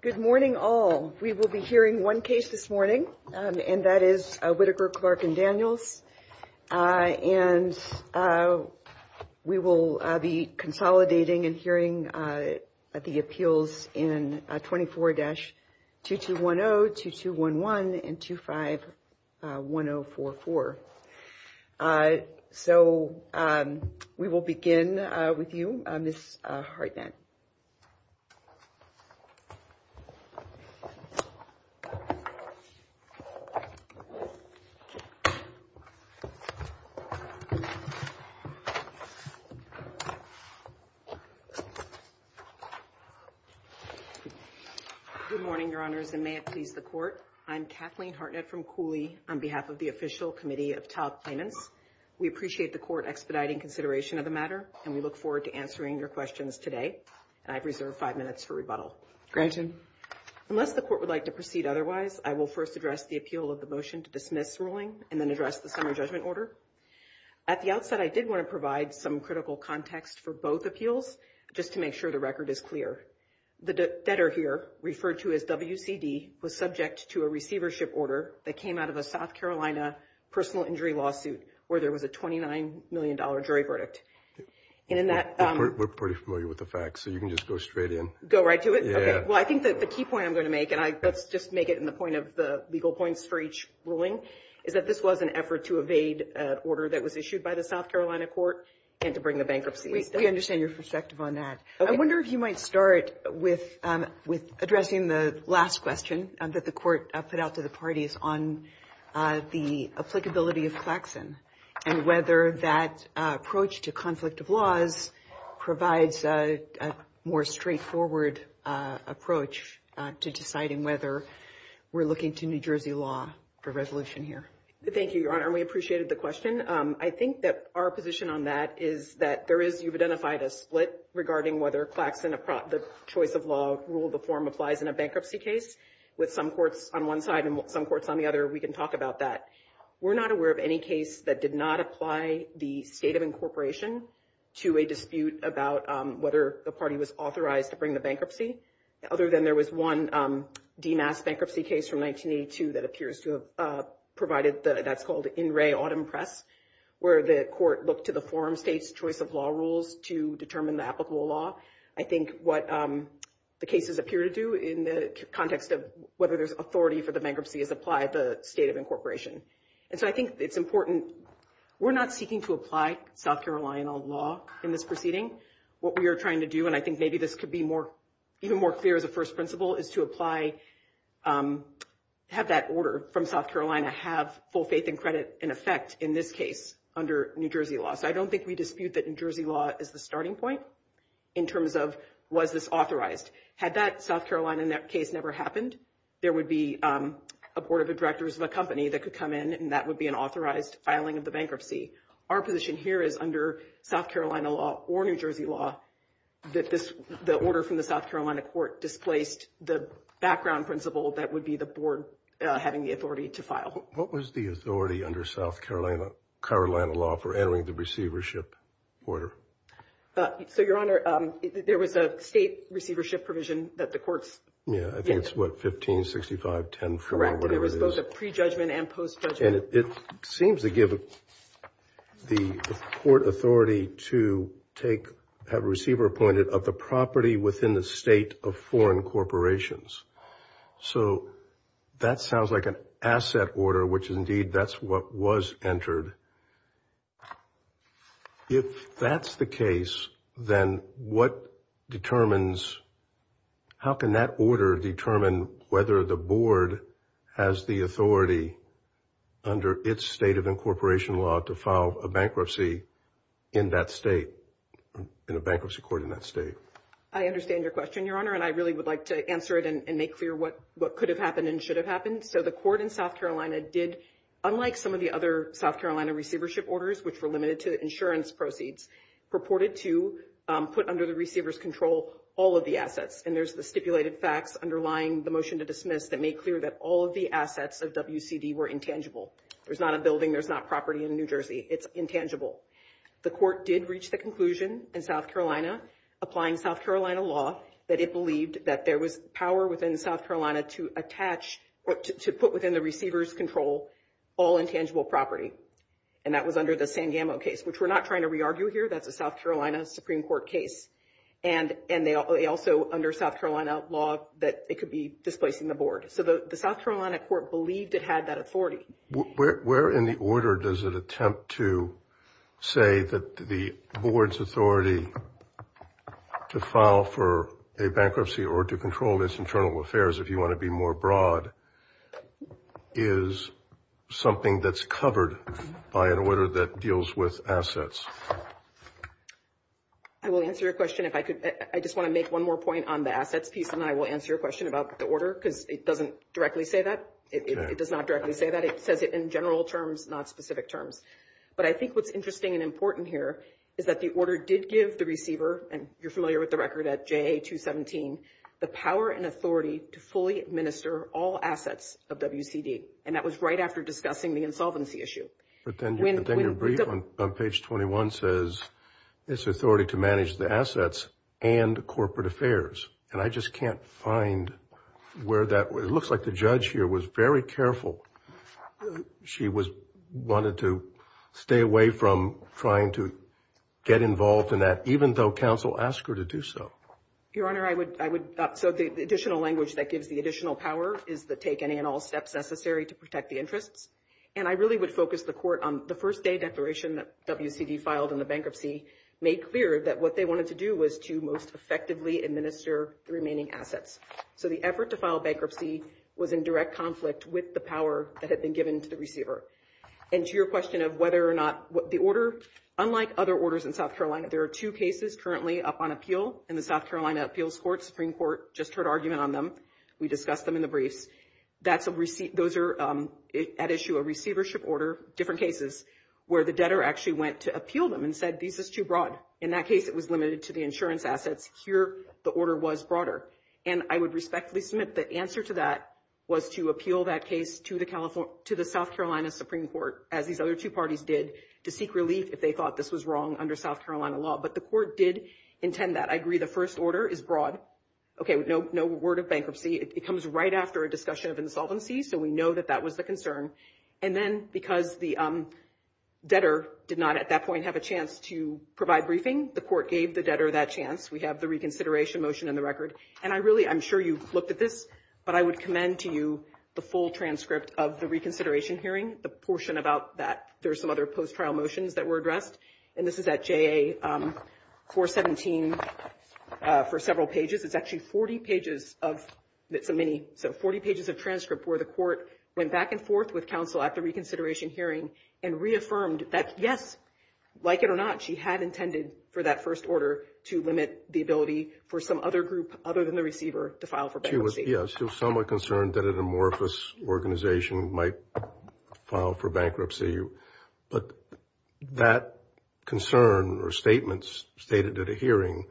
Good morning all we will be hearing one case this morning and that is a Whittaker Clark and Daniels and we will be consolidating and hearing at the appeals in 24-2210, 2211, and 25-1044. So we will begin with you, Ms. Harden. Good morning, Your Honors, and may it please the Court. I'm Kathleen Hartnett from COULEE on behalf of the Official Committee of Child Claimants. We appreciate the Court expediting consideration of the matter and we look forward to answering your questions today. I reserve five minutes for rebuttal. Granted. Unless the Court would like to proceed otherwise, I will first address the appeal of the motion to dismiss ruling and then address the summary judgment order. At the outset, I did want to provide some critical context for both appeals just to make sure the record is clear. The debtor here, referred to as WCD, was subject to a receivership order that came out of a South Carolina personal injury lawsuit where there was a $29 million jury verdict. We're pretty familiar with the facts so you can just go straight in. Well, I think that the key point I'm going to make, and I just make it in the point of the legal points for each ruling, is that this was an effort to evade an order that was issued by the South Carolina court and to bring a bankruptcy. We understand your perspective on that. I wonder if you might start with addressing the last question that the Court put out to the parties on the applicability of faxing and whether that approach to conflict of laws provides a more straightforward approach to deciding whether we're looking to New Jersey law for resolution here. Thank you, Your Honor. We appreciated the question. I think there is, you've identified a split regarding whether faxing the choice of law rule of the form applies in a bankruptcy case. With some courts on one side and some courts on the other, we can talk about that. We're not aware of any case that did not apply the state of incorporation to a dispute about whether the party was authorized to bring the bankruptcy, other than there was one DNAS bankruptcy case from 1982 that appears to have provided the, that's called In Re Autumn Press, where the court looked to the form state's choice of law rules to determine the applicable law. I think what the cases appear to do in the context of whether there's authority for the bankruptcy is apply the state of incorporation. And so I think it's important, we're not seeking to apply South Carolina law in this proceeding. What we are trying to do, and I think maybe this could be more, even more clear as a first principle, is to apply, have that order from South Carolina law in effect in this case under New Jersey law. So I don't think we dispute that New Jersey law is the starting point in terms of was this authorized. Had that South Carolina in that case never happened, there would be a board of directors of a company that could come in and that would be an authorized filing of the bankruptcy. Our position here is under South Carolina law or New Jersey law that this, the order from the South Carolina court displaced the background principle that would be the board having the authority to file. What was the authority under South Carolina, Carolina law for entering the receivership order? So your honor, there was a state receivership provision that the courts. Yeah, I think it's what, 15, 65, 10, whatever it is. Pre-judgment and post-judgment. And it seems to give the court authority to take, have a receiver appointed of the property within the state of foreign corporations. So that sounds like an asset order, which is indeed that's what was entered. If that's the case, then what determines, how can that order determine whether the board has the authority under its state of incorporation law to file a bankruptcy in that state, in a bankruptcy court in that state? I understand your question, your honor, and I really would like to answer it and make clear what could have happened and should have happened. So the court in South Carolina did, unlike some of the other South Carolina receivership orders, which were limited to insurance proceeds, purported to put under the receivers control all of the assets. And there's the stipulated facts underlying the motion to dismiss that make clear that all of the assets of WCD were intangible. There's not a building, there's not property in New Jersey. It's intangible. The court did reach the conclusion in South Carolina, applying South Carolina law, that it believed that there was power within South Carolina to attach or to put within the receivers control all intangible property. And that was under the San Gamo case, which we're not trying to re-argue here, that's a South Carolina Supreme Court case. And they also, under South Carolina law, that it could be displacing the board. So the South Carolina court believed it had that authority. Where in the order does it attempt to say that the board's authority to file for a bankruptcy or to control this internal affairs, if you want to be more broad, is something that's covered by an order that deals with assets? I will answer your question if I could. I just want to make one more point on the assets piece and I will answer your question about the order, because it doesn't directly say that. It says it in general terms, not specific terms. But I think what's interesting and important here is that the order did give the receiver, and you're familiar with the record at JA 217, the power and authority to fully administer all assets of WCD. And that was right after discussing the insolvency issue. But then your brief on page 21 says, it's authority to manage the assets and corporate affairs. And I just can't find where that was. It looks like the judge here was very careful. She wanted to stay away from trying to get involved in that, even though counsel asked her to do so. Your Honor, I would, so the additional language that gives the additional power is to take any and all steps necessary to protect the interests. And I really would focus the court on the first day declaration that WCD filed on the bankruptcy made clear that what they wanted to do was to most effectively administer the remaining assets. So the effort to file bankruptcy was in direct conflict with the power that had been given to the receiver. And to your question of whether or not the order, unlike other orders in South Carolina, there are two cases currently up on appeal in the South Carolina Appeals Court. Supreme Court just heard argument on them. We discussed them in the brief. That's a receipt, those are at issue, a receivership order, different cases, where the debtor actually went to appeal them and said, this is too broad. In that case, it was limited to the insurance assets. Here, the order was broader. And I would respectfully submit the answer to that was to appeal that case to the South Carolina Supreme Court, as these other two parties did, to seek relief if they thought this was wrong under South Carolina law. But the court did intend that. I agree the first order is broad. Okay, no word of bankruptcy. It comes right after a discussion of insolvency, so we know that that was the concern. And then because the debtor did not at that point have a briefing, the court gave the debtor that chance. We have the reconsideration motion in the record. And I really, I'm sure you've looked at this, but I would commend to you the full transcript of the reconsideration hearing, the portion about that. There are some other post-trial motions that were addressed. And this is at JA 417 for several pages. It's actually 40 pages of, it's a mini, so 40 pages of transcript where the court went back and forth with counsel at the reconsideration hearing and reaffirmed that, yes, like it or not, she had intended for that first order to limit the ability for some other group other than the receiver to file for bankruptcy. She was somewhat concerned that an amorphous organization might file for bankruptcy. But that concern or statements stated at the hearing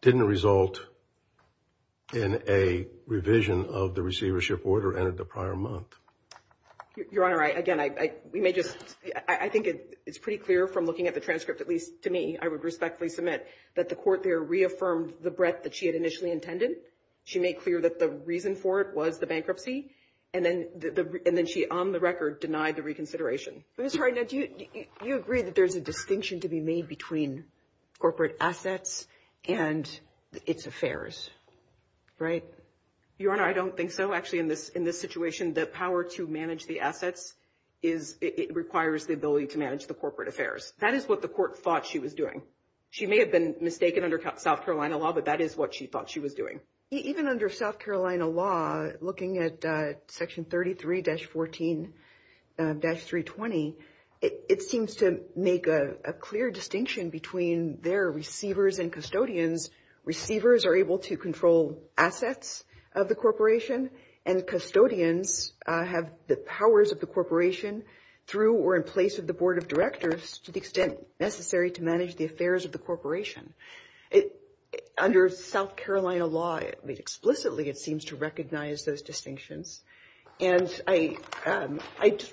didn't result in a revision of the receivership order and at the prior month. Your Honor, again, I think it's pretty clear from looking at the transcript, at least to me, I would respectfully submit, that the court there reaffirmed the breadth that she had initially intended. She made clear that the reason for it was the bankruptcy. And then she, on the record, denied the reconsideration. MS. GOTTLIEB I'm sorry. Now, do you agree that there's a distinction to be made between corporate assets and its affairs? MS. TAYLOR Right. Your Honor, I don't think so actually in this situation. The power to manage the assets is, it requires the ability to manage the corporate affairs. That is what the court thought she was doing. She may have been mistaken under South Carolina law, but that is what she thought she was doing. MS. GOTTLIEB Even under South Carolina law, looking at Section 33-14-320, it seems to make a clear distinction between their receivers and custodians. Receivers are able to control assets of the corporation, and custodians have the powers of the corporation through or in place of the board of directors to the extent necessary to manage the affairs of the corporation. Under South Carolina law, explicitly, it seems to recognize those distinctions. And I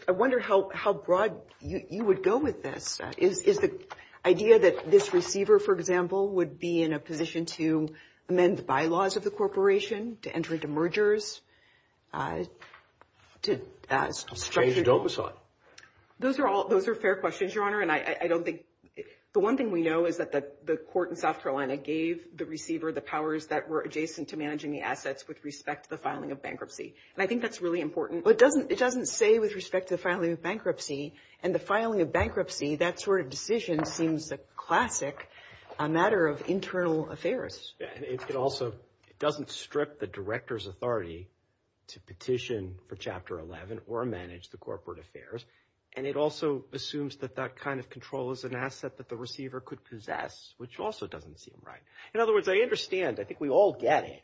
wonder how broad you would go with this. Is the idea that this receiver, for example, would be in a position to amend the bylaws of the corporation, to mergers? MR. GOTTLIEB Those are fair questions, Your Honor. The one thing we know is that the court in South Carolina gave the receiver the powers that were adjacent to managing the assets with respect to the filing of bankruptcy. And I think that is really important. It doesn't say with respect to the filing of bankruptcy. And the filing of bankruptcy, that sort of decision seems classic, a matter of internal affairs. It also doesn't strip the director's authority to petition for Chapter 11 or manage the corporate affairs. And it also assumes that that kind of control is an asset that the receiver could possess, which also doesn't seem right. In other words, I understand. I think we all get it.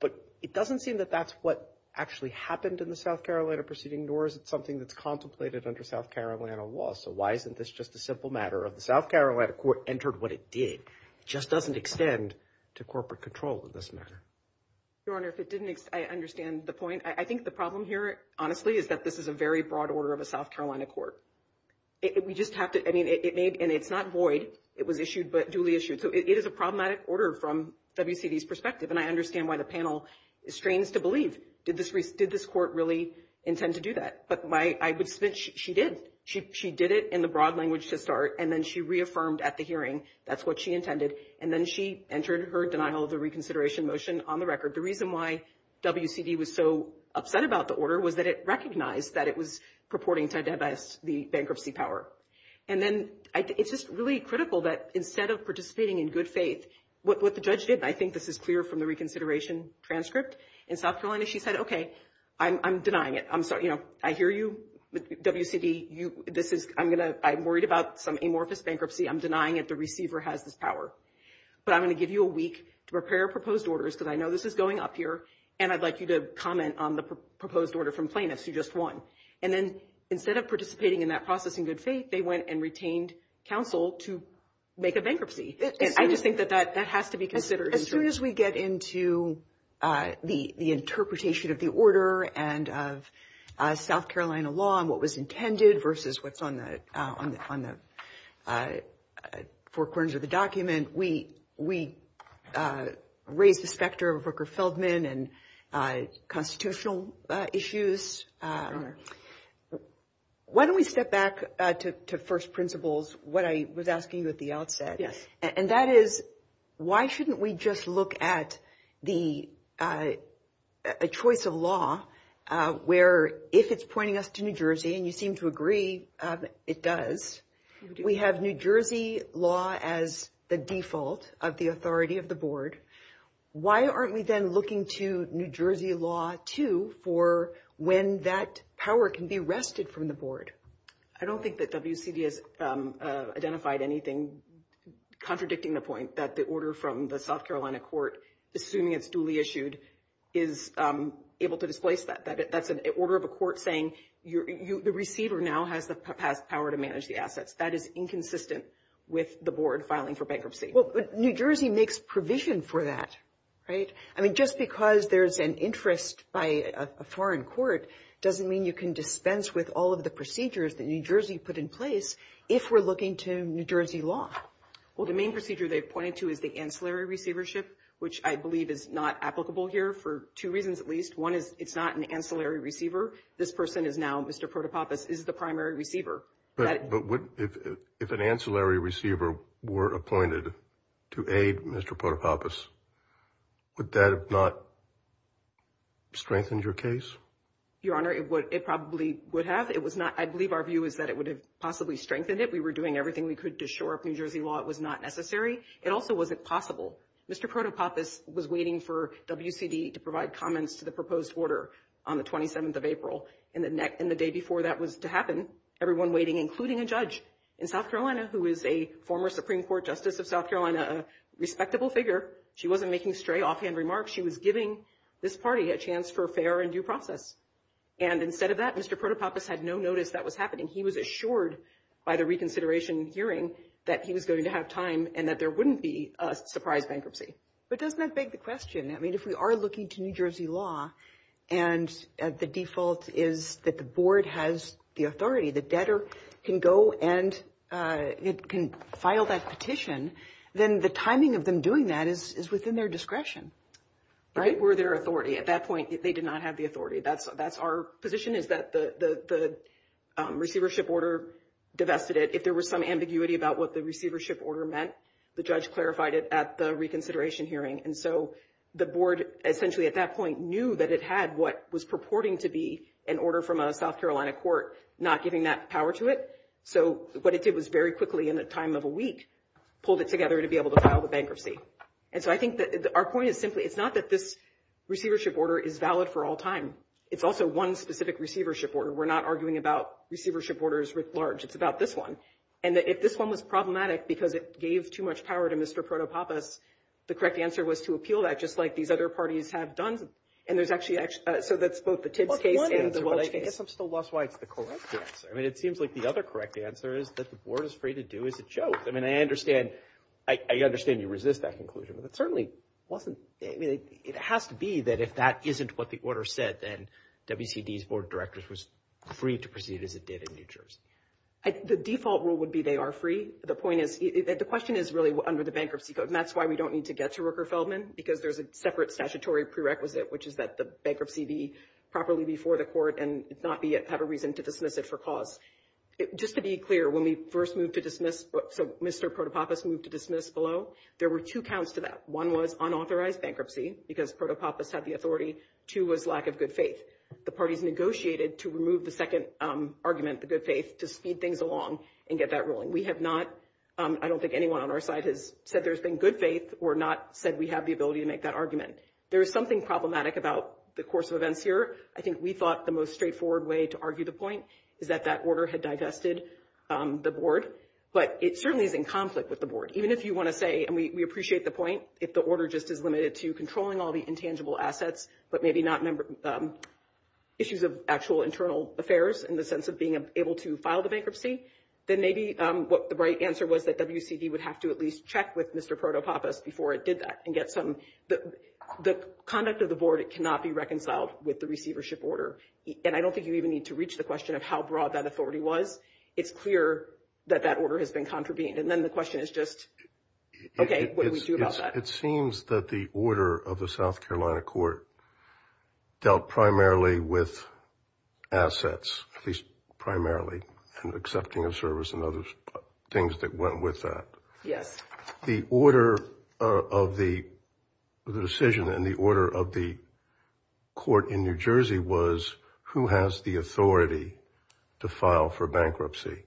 But it doesn't seem that that's what actually happened in the South Carolina proceeding, nor is it something that's contemplated under South Carolina law. So why isn't this just a simple matter of the South Carolina court entered what it did? It doesn't extend to corporate control of this matter. MS. GOTTLIEB Your Honor, if it didn't, I understand the point. I think the problem here, honestly, is that this is a very broad order of a South Carolina court. We just have to, I mean, it's not void. It was issued, but duly issued. So it is a problematic order from WCD's perspective. And I understand why the panel is strained to believe. Did this court really intend to do that? But I would say she did. She did it in the broad language to start, and then she reaffirmed at the hearing that's what she intended. And then she entered her denial of the reconsideration motion on the record. The reason why WCD was so upset about the order was that it recognized that it was purporting to divest the bankruptcy power. And then it's just really critical that instead of participating in good faith, what the judge did, and I think this is clear from the reconsideration transcript, in South Carolina she said, okay, I'm denying it. I'm sorry. I hear you, WCD. I'm worried about some amorphous bankruptcy. I'm denying that the receiver has this power. But I'm going to give you a week to prepare proposed orders, because I know this is going up here, and I'd like you to comment on the proposed order from Plaintiffs, who just won. And then instead of participating in that process in good faith, they went and retained counsel to make a bankruptcy. I just think that that has to be considered. As soon as we get into the interpretation of the order and of South Carolina, we raise the specter of a Booker Feldman and constitutional issues. Why don't we step back to first principles, what I was asking you at the outset? And that is, why shouldn't we just look at the choice of where, if it's pointing us to New Jersey, and you seem to agree it does, we have New Jersey law as the default of the authority of the board. Why aren't we then looking to New Jersey law, too, for when that power can be wrested from the board? I don't think that WCD has identified anything contradicting the point that the order from the South Carolina court, assuming it's duly issued, is able to displace that. That's an order of a court saying the receiver now has the power to manage the assets. That is inconsistent with the board filing for bankruptcy. Well, but New Jersey makes provision for that, right? I mean, just because there's an interest by a foreign court doesn't mean you can dispense with all of the procedures that New Jersey put in place if we're looking to New Jersey law. Well, the main procedure they've pointed to is the ancillary One is it's not an ancillary receiver. This person is now, Mr. Protopappas, is the primary receiver. But if an ancillary receiver were appointed to aid Mr. Protopappas, would that have not strengthened your case? Your Honor, it probably would have. I believe our view is that it would have possibly strengthened it. We were doing everything we could to assure if New Jersey law was not necessary. It also wasn't possible. Mr. Protopappas was waiting for WCD to provide comments to the proposed order on the 27th of April. And the day before that was to happen, everyone waiting, including a judge in South Carolina who is a former Supreme Court Justice of South Carolina, a respectable figure. She wasn't making straight offhand remarks. She was giving this party a chance for fair and due process. And instead of that, Mr. Protopappas had no notice that was happening. He was assured by the reconsideration hearing that he was going to have time and that there wouldn't be a surprise bankruptcy. But doesn't that beg the question? I mean, if we are looking to New Jersey law and the default is that the board has the authority, the debtor can go and can file that petition, then the timing of them doing that is within their discretion. Right? Were there authority? At that point, they did not have the authority. That's our position is that the receivership order divested it. If there was some ambiguity about what the receivership order meant, the judge clarified it at the reconsideration hearing. And so the board essentially at that point knew that it had what was purporting to be an order from a South Carolina court not giving that power to it. So what it did was very quickly in the time of a week pulled it together to be able to file the bankruptcy. And so I think that our point is simply it's not that this receivership order is valid for all time. It's also one specific receivership order. We're not arguing about receivership orders writ large. It's about this one. And if this one was problematic because it gave too much power to Mr. Proto-Papas, the correct answer was to appeal that just like these other parties have done. And there's actually, so that's both the tip case and the relationship. I guess I'm still lost why it's the correct answer. I mean, it seems like the other correct answer is that the board is free to do as it shows. I mean, I understand, I understand you resist that conclusion, but it certainly wasn't, I mean, it has to be that if that isn't what the order said, then WCD's board of directors was free to proceed as it did in the pictures. The default rule would be they are free. The point is, the question is really under the bankruptcy, but that's why we don't need to get to Rooker Feldman because there's a separate statutory prerequisite, which is that the bankruptcy be properly before the court and not have a reason to dismiss it for cause. Just to be clear, when we first moved to dismiss, so Mr. Proto-Papas moved to dismiss below, there were two counts to that. One was unauthorized bankruptcy because Proto-Papas had the authority. Two was lack of good faith. The parties negotiated to remove the second argument, the good faith, to speed things along and get that rolling. We have not, I don't think anyone on our side has said there's been good faith or not said we have the ability to make that argument. There is something problematic about the course of events here. I think we thought the most straightforward way to argue the point is that that order had digested the board, but it certainly is in conflict with the board. Even if you want to say, and we appreciate the point, if the order just is limited to controlling all the intangible assets, but maybe not issues of actual internal affairs in the sense of being able to file the bankruptcy, then maybe the right answer was that WCD would have to at least check with Mr. Proto-Papas before it did that and get some, the conduct of the board cannot be reconciled with the receivership order. I don't think you even need to reach the question of how broad that authority was. It's clear that that order has been contravened. Then the question is just, okay, what do we do about that? It seems that the order of the South Carolina court dealt primarily with assets, at least primarily, and accepting of service and other things that went with that. The order of the decision and the order of the court in New Jersey was who has the authority to file for bankruptcy.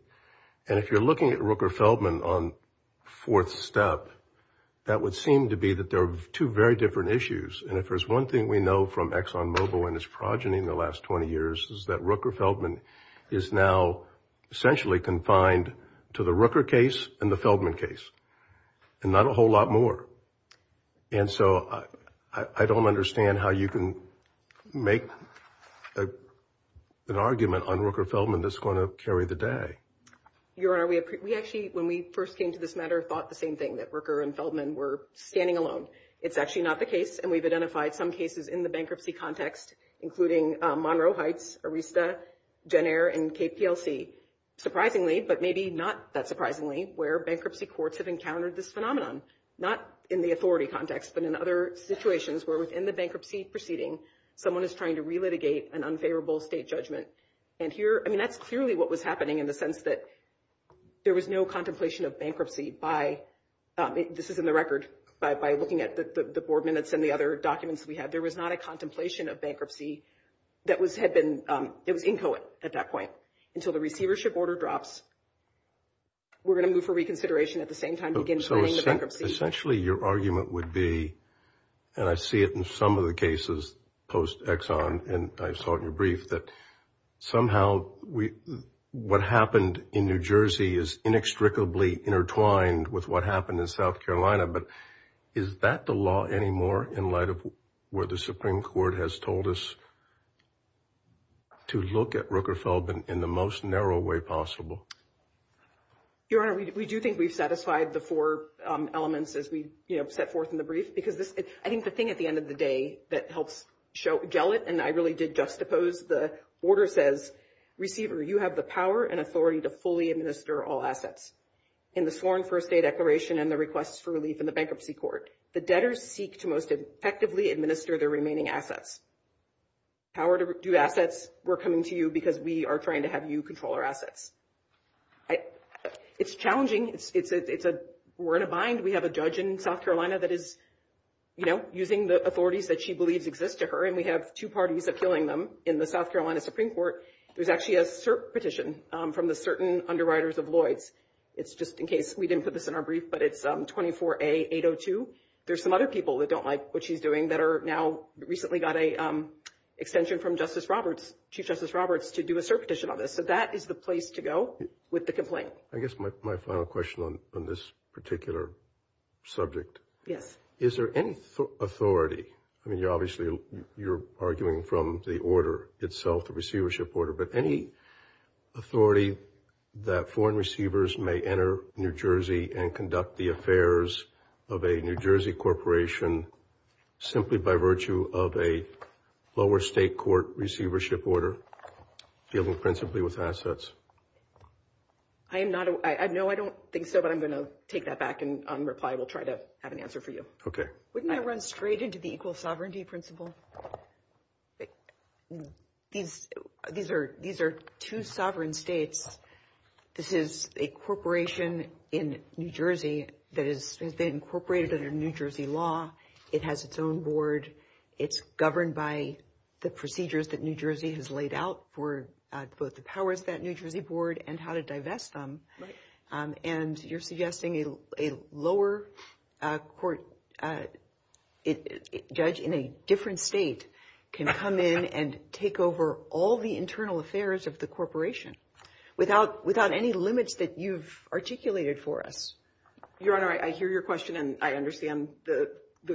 If you're looking at Rooker-Feldman on fourth step, that would seem to be that there are two very different issues. If there's one thing we know from Exxon Mobil and its progeny in the last 20 years is that Rooker-Feldman is now essentially confined to the Rooker case and the Feldman case, and not a whole lot more. I don't understand how you can make an argument on Rooker-Feldman that's going to carry the day. Your Honor, we actually, when we first came to this matter, thought the same thing, that Rooker and Feldman were standing alone. It's actually not the case, and we've identified some cases in the bankruptcy context, including Monroe Heights, Arista, Jenner, and KPLC, surprisingly, but maybe not that surprisingly, where bankruptcy courts have encountered this phenomenon, not in the authority context, but in other situations where within the bankruptcy proceeding, someone is trying to clear what was happening in the sense that there was no contemplation of bankruptcy by, this is in the record, by looking at the board minutes and the other documents we had, there was not a contemplation of bankruptcy that had been infill at that point. Until the receivership order drops, we're going to move for reconsideration at the same time. Essentially, your argument would be, and I see it in some of the cases post-Exxon, and I saw it in your brief, that somehow what happened in New Jersey is inextricably intertwined with what happened in South Carolina, but is that the law anymore in light of where the Supreme Court has told us to look at Rooker-Feldman in the most narrow way possible? Your Honor, we do think we've set aside the four elements as we set forth in the brief, because I think the thing at the end of the day that helps gel it, and I really did juxtapose, the order says, Receiver, you have the power and authority to fully administer all assets. In the sworn first day declaration and the request for release in the bankruptcy court, the debtors seek to most effectively administer their remaining assets. Power to do assets, we're coming to you because we are trying to have you control our assets. It's challenging. We're in a bind. We have a judge in South Carolina that is using the authorities that she believes exist to her, and we have two parties that are killing them in the South Carolina Supreme Court. There's actually a cert petition from the certain underwriters of Lloyd's. It's just in case we didn't put this in our brief, but it's 24A802. There's some other people that don't like what she's doing that are now recently got an extension from Chief Justice Roberts to do a cert petition on this. So that is the place to go with the complaint. I guess my final question on this particular subject. Yes. Is there any authority? I mean, obviously, you're arguing from the order itself, the receivership order, but any authority that foreign receivers may enter New Jersey and conduct the affairs of a New Jersey corporation simply by virtue of a lower state court receivership order dealing principally with assets? I am not – no, I don't think so, but I'm going to take that back and reply. We'll try to have an answer for you. Okay. Wouldn't that run straight into the equal sovereignty principle? These are two sovereign states. This is a corporation in New Jersey that is incorporated under New Jersey law. It has its own board. It's governed by the procedures that New Jersey has laid out for both the powers of that New Jersey board and how to divest them. And you're suggesting a lower court judge in a different state can come in and take over all the internal affairs of the corporation without any limits that you've articulated for us? Your Honor, I hear your question, and I understand the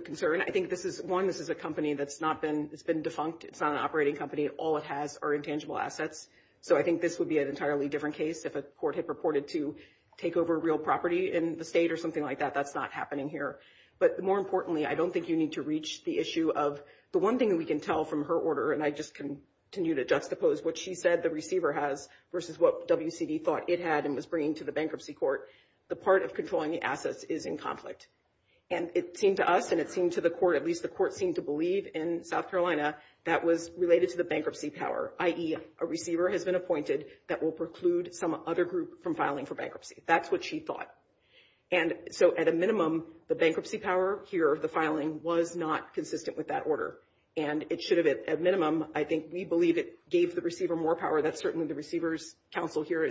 concern. I think this is – one, this is a company that's not been – it's been defunct. It's not an operating company. All it has are intangible assets. So I think this would be an entirely different case if a court had purported to take over real property in the state or something like that. That's not happening here. But more importantly, I don't think you need to reach the issue of – the one thing we can tell from her order, and I just continue to juxtapose what she said the receiver has versus what WCB thought it had and was bringing to the bankruptcy court, the part of controlling the assets is in conflict. And it seemed to us and it seemed to the court – at least the court seemed to in South Carolina that was related to the bankruptcy power, i.e., a receiver has been appointed that will preclude some other group from filing for bankruptcy. That's what she thought. And so at a minimum, the bankruptcy power here, the filing, was not consistent with that order. And it should have been. At minimum, I think we believe it gave the receiver more power. That's certainly the receiver's counsel here.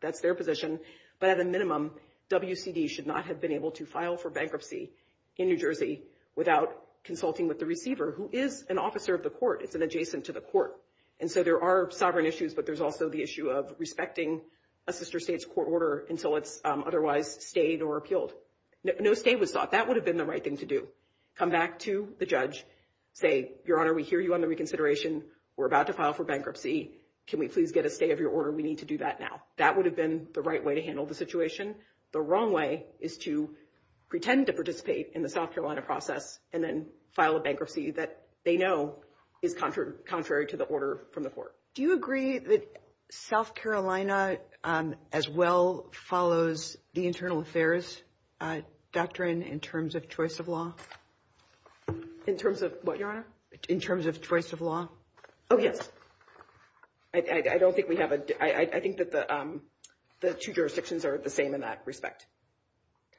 That's their position. But at a minimum, WCB should not have been able to file for bankruptcy in New And so there are sovereign issues, but there's also the issue of respecting a sister state's court order until it's otherwise stayed or repealed. No stay was sought. That would have been the right thing to do. Come back to the judge, say, Your Honor, we hear you on the reconsideration, we're about to file for bankruptcy. Can we please get a stay of your order? We need to do that now. That would have been the right way to handle the situation. The wrong way is to pretend to participate in the South Carolina process and then file a bankruptcy that they know is contrary to the order from the court. Do you agree that South Carolina as well follows the internal affairs doctrine in terms of choice of law? In terms of what, Your Honor? In terms of choice of law. Oh, yes. I don't think we have a... I think that the two jurisdictions are the same in that respect.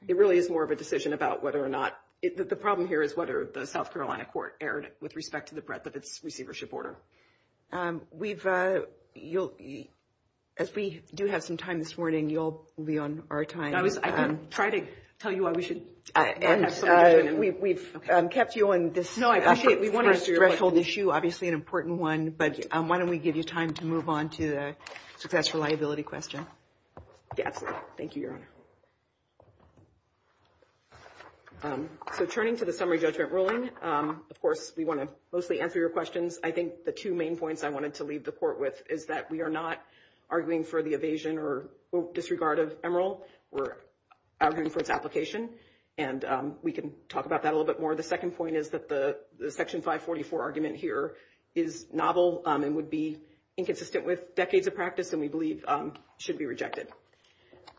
It really is more of a decision about whether or not... The problem here is whether the South Carolina court erred with respect to the breadth of the receivership order. As we do have some time this morning, you'll be on our time. I was trying to tell you why we should... We've kept you on this. No, I appreciate it. We want to address the whole issue, obviously an important one, but why don't we give you time to move on to the special liability question? Yeah, thank you, Your Honor. So turning to the summary judgment ruling, of course, we want to mostly answer your questions. I think the two main points I wanted to leave the court with is that we are not arguing for the evasion or disregard of Emeril. We're arguing for its application, and we can talk about that a little bit more. The second point is that the Section 544 argument here is novel and would be inconsistent with decades of practice, and we believe should be rejected.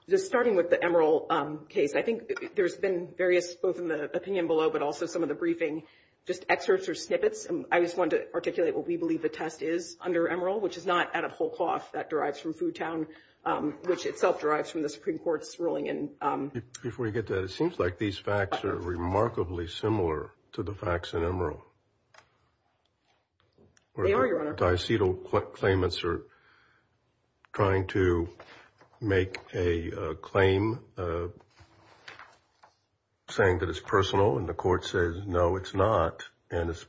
Just starting with the Emeril case, I think there's been various, both in the opinion below, but also some of the briefing, just excerpts or snippets, and I just wanted to articulate what we believe the test is under Emeril, which is not at a whole cost. That derives from Foodtown, which itself derives from the Supreme Court's ruling. Before you get to that, it seems like these facts are remarkably similar to the facts in Emeril. They are, Your Honor. Dicetal claimants are trying to make a claim saying that it's personal, and the court says, no, it's not, and it's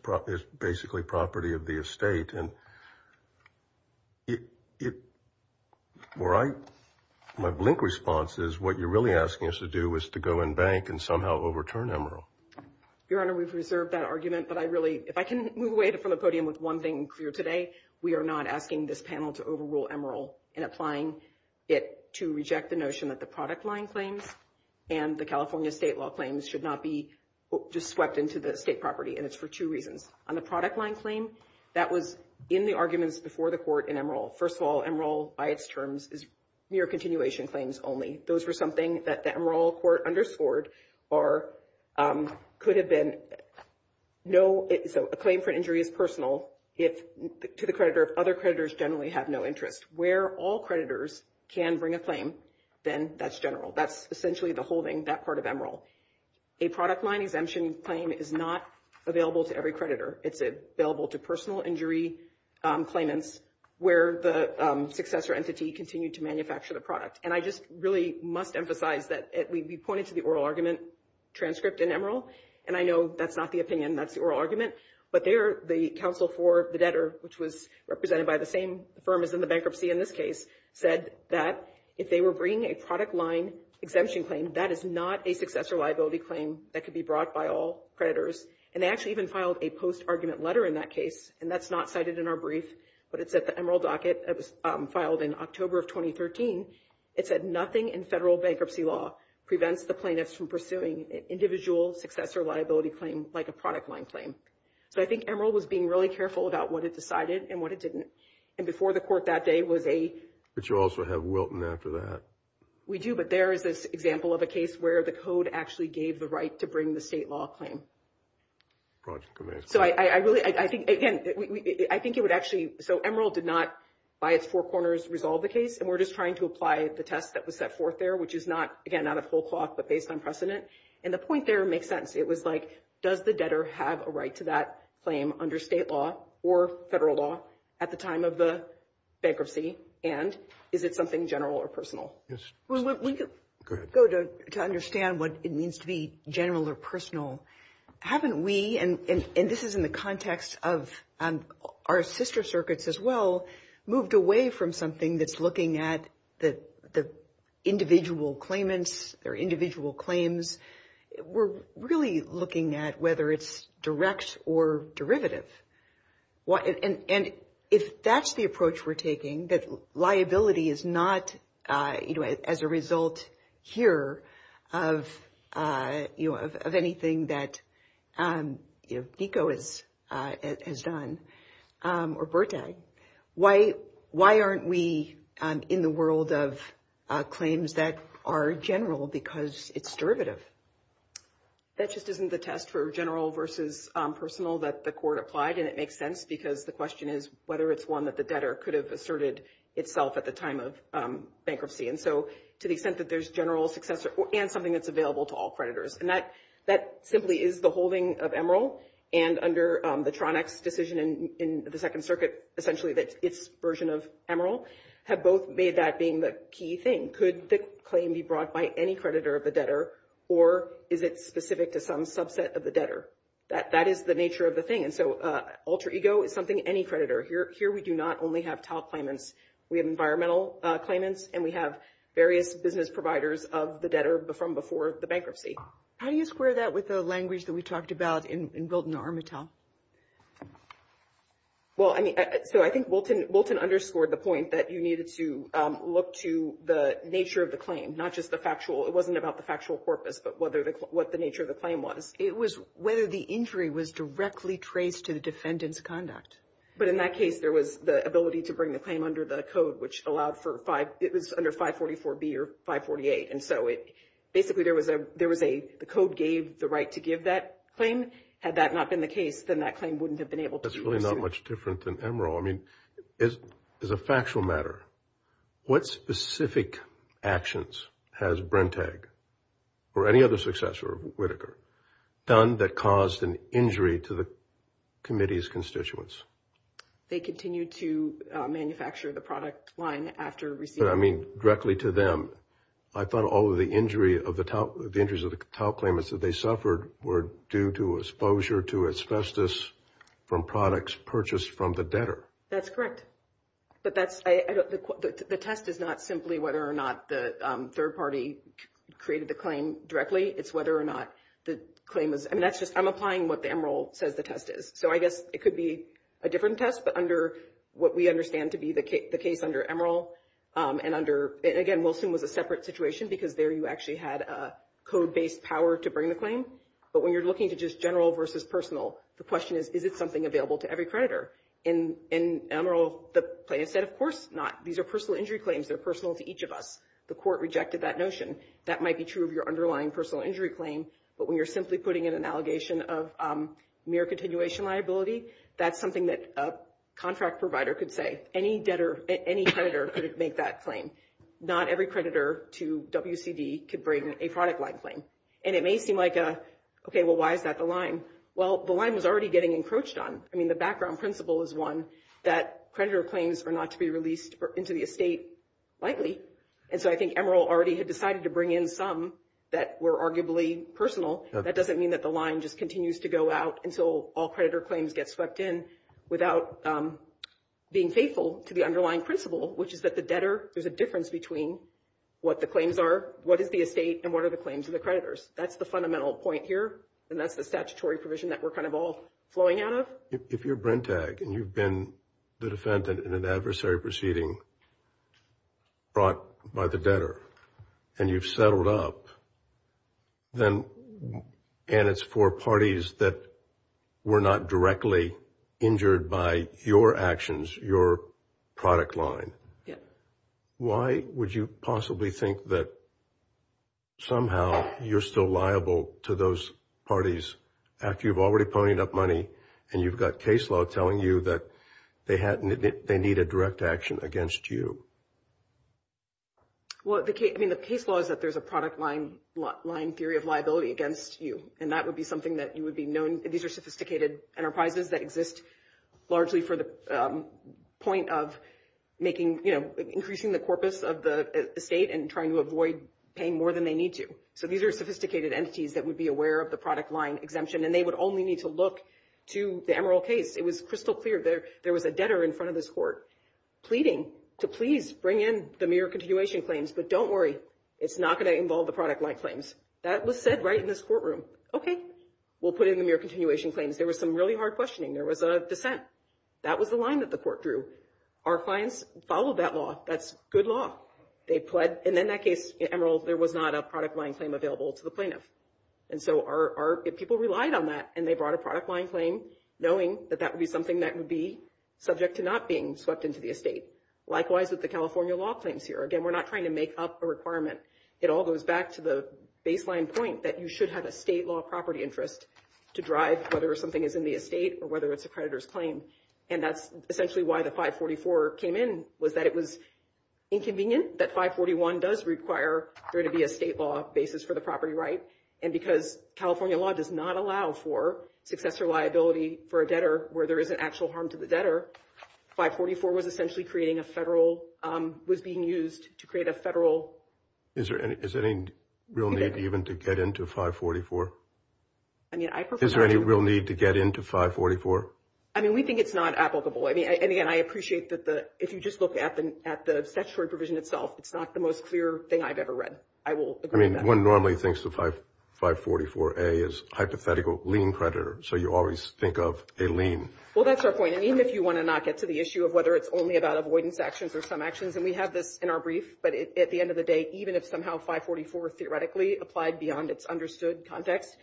basically property of the estate. My blink response is what you're really asking us to do is to go and bank and somehow overturn Emeril. Your Honor, we've reserved that argument, but I really, if I can move away from the podium with one thing clear today, we are not asking this panel to overrule Emeril in applying it to reject the notion that the product line claim and the California state law claims should not be just swept into the state property, and it's for two reasons. On the product line claim, that was in the arguments before the court in Emeril. First of all, Emeril, by its terms, is mere continuation claims only. Those were something that the Emeril court underscored or could have been no, so a claim for injury is personal. It's to the creditor. Other creditors generally have no interest. Where all creditors can bring a claim, then that's general. That's essentially the holding, that part of Emeril. A product line exemption claim is not available to every creditor. It's available to personal injury claimants where the successor entity continued to manufacture the product, and I just really must emphasize that we pointed to the oral argument transcript in Emeril, and I know that's not the opinion. That's the oral argument, but there, the counsel for the debtor, which was represented by the same firm as in the bankruptcy in this case, said that if they were bringing a product line exemption claim, that is not a successor liability claim that could be brought by all creditors, and they actually even filed a post-argument letter in that case, and that's not cited in our brief, but it's at the Emeril docket. It was filed in October of 2013. It said nothing in federal bankruptcy law prevents the plaintiffs from pursuing individual successor liability claims like a product line claim, so I think Emeril was being really careful about what it decided and what it didn't, and before the court that day was a... But you also have Wilton after that. We do, but there is this example of a case where the code actually gave the right to bring the state law claim. So I really, I think, again, I think it would actually, so Emeril did not, by its four corners, resolve the case, and we're just trying to apply the test that was set forth there, which is not, again, not a full cloth, but based on precedent, and the point there makes sense. It was like, does the debtor have a right to that claim under state law or federal law at the time of the bankruptcy, and is it something general or personal? Yes. Well, when you go to understand what it means to be general or personal, haven't we, and this is in the context of our sister circuits as well, moved away from something that's looking at the individual claimants or individual claims. We're really looking at whether it's directs or derivatives. And if that's the approach we're taking, that liability is not, you know, as a result here of, you know, of anything that, you know, DECO has done or BERTA, why aren't we in the world of claims that are general because it's derivative? That just isn't the test for general versus personal that the court applied, and it makes sense because the question is whether it's one that the debtor could have asserted itself at the time of bankruptcy. And so to the extent that there's general success and something that's available to all creditors, and that simply is the holding of Emeril and under the Tronex decision in the Second Circuit, essentially that it's version of Emeril, have both made that being the key thing. Could the claim be brought by any creditor of the debtor or is it specific to some subset of the debtor? That is the nature of the thing. And so alter ego is something any creditor, here we do not only have TAL claimants, we have environmental claimants and we have various business providers of the debtor from before the bankruptcy. How do you square that with the language that we talked about in building the arm of TAL? Well, I mean, so I think Wilton underscored the point that you needed to look to the nature of the claim, not just the factual, it wasn't about the factual corpus, but what the nature of the claim was. It was whether the injury was directly traced to the defendant's conduct. But in that case, there was the ability to bring the claim under the code, which allowed for five, it was under 544B or 548. And so basically there was a code gave the right to give that claim. Had that not been the case, then that claim wouldn't have been able to. That's really not much different than Emerald. I mean, as a factual matter, what specific actions has Brentag or any other successor of Whitaker done that caused an injury to the committee's constituents? They continue to manufacture the product line after receiving. I mean, directly to them. I thought all of the injuries of the TAL claimants that they suffered were due to exposure to asbestos from products purchased from the debtor. That's correct. But the test is not simply whether or not the third party created the claim directly. It's whether or not the claim is, I mean, that's just, I'm applying what the Emerald says the test is. So I guess it could be a different test, but under what we understand to be the case under Emerald and under, and again, Wilson was a separate situation because there you actually had a code-based power to bring the claim. But when you're looking to just general versus personal, the question is, is it something available to every creditor? In Emerald, the plaintiff said, of course not. These are personal injury claims. They're personal to each of us. The court rejected that notion. That might be true of your underlying personal injury claim. But when you're simply putting in an allegation of mere continuation liability, that's something that a contract provider could say. Any debtor, any creditor could make that claim. Not every creditor to WCD could bring a product line claim. And it may seem like, okay, well, why is that the line? Well, the line is already getting encroached on. I mean, the background principle is one that creditor claims are not to be released into the estate likely. And so I think Emerald already had decided to bring in some that were arguably personal. That doesn't mean that the line just continues to go out until all creditor claims get swept in without being faithful to the underlying principle, which is that the debtor, there's a difference between what the claims are, what is the estate, and what are the claims of the creditors? That's the fundamental point here. And that's the statutory provision that we're kind of all flowing out of. If you're Brentag and you've been the defendant in an adversary proceeding brought by the debtor and you've settled up, and it's for parties that were not directly injured by your actions, your product line, why would you possibly think that somehow you're still liable to those parties after you've already ponied up money and you've got case law telling you that they need a direct action against you? Well, I mean, the case law is that there's a product line theory of liability against you. And that would be something that you would be known, these are sophisticated enterprises that exist largely for the point of making, you know, increasing the corpus of the estate and trying to avoid paying more than they need to. So these are sophisticated entities that would be aware of the product line exemption and they would only need to look to the Emerald case. It was crystal clear there was a debtor in front of this court pleading to please bring in the mere continuation claims, but don't worry, it's not going to involve the product line claims. That was said right in this courtroom. Okay, we'll put in the mere continuation claims. There was some really hard questioning. There was a defense. That was the line that the court drew. Our clients followed that law. That's good law. They pled. And in that case, Emerald, there was not a product line claim available to the plaintiff. And so our people relied on that and they brought a product line claim knowing that that would be something that would be subject to not being swept into the estate. Likewise with the California law claims here. Again, we're not trying to make up a requirement. It all goes back to the baseline point that you should have a state law property interest to drive whether something is in the estate or whether it's a creditor's claim. And that's essentially why the 544 came in was that it was inconvenient that 541 does require there to be a state law basis for the property right. And because California law does not allow for successor liability for a debtor where there is an actual harm to the debtor, 544 was essentially creating a federal, was being used to create a federal. Is there any real need even to get into 544? Is there any real need to get into 544? I mean, we think it's not applicable. I mean, and again, I appreciate that if you just look at the statutory provision itself, it's not the most clear thing I've ever read. I will agree with that. One normally thinks of 544A as hypothetical lien creditor. So you always think of a lien. Well, that's our point. I mean, if you want to not get to the issue of whether it's only about avoidance actions or some actions, and we have this in our brief, but at the end of the day, even if somehow 544 theoretically applied beyond its understood context,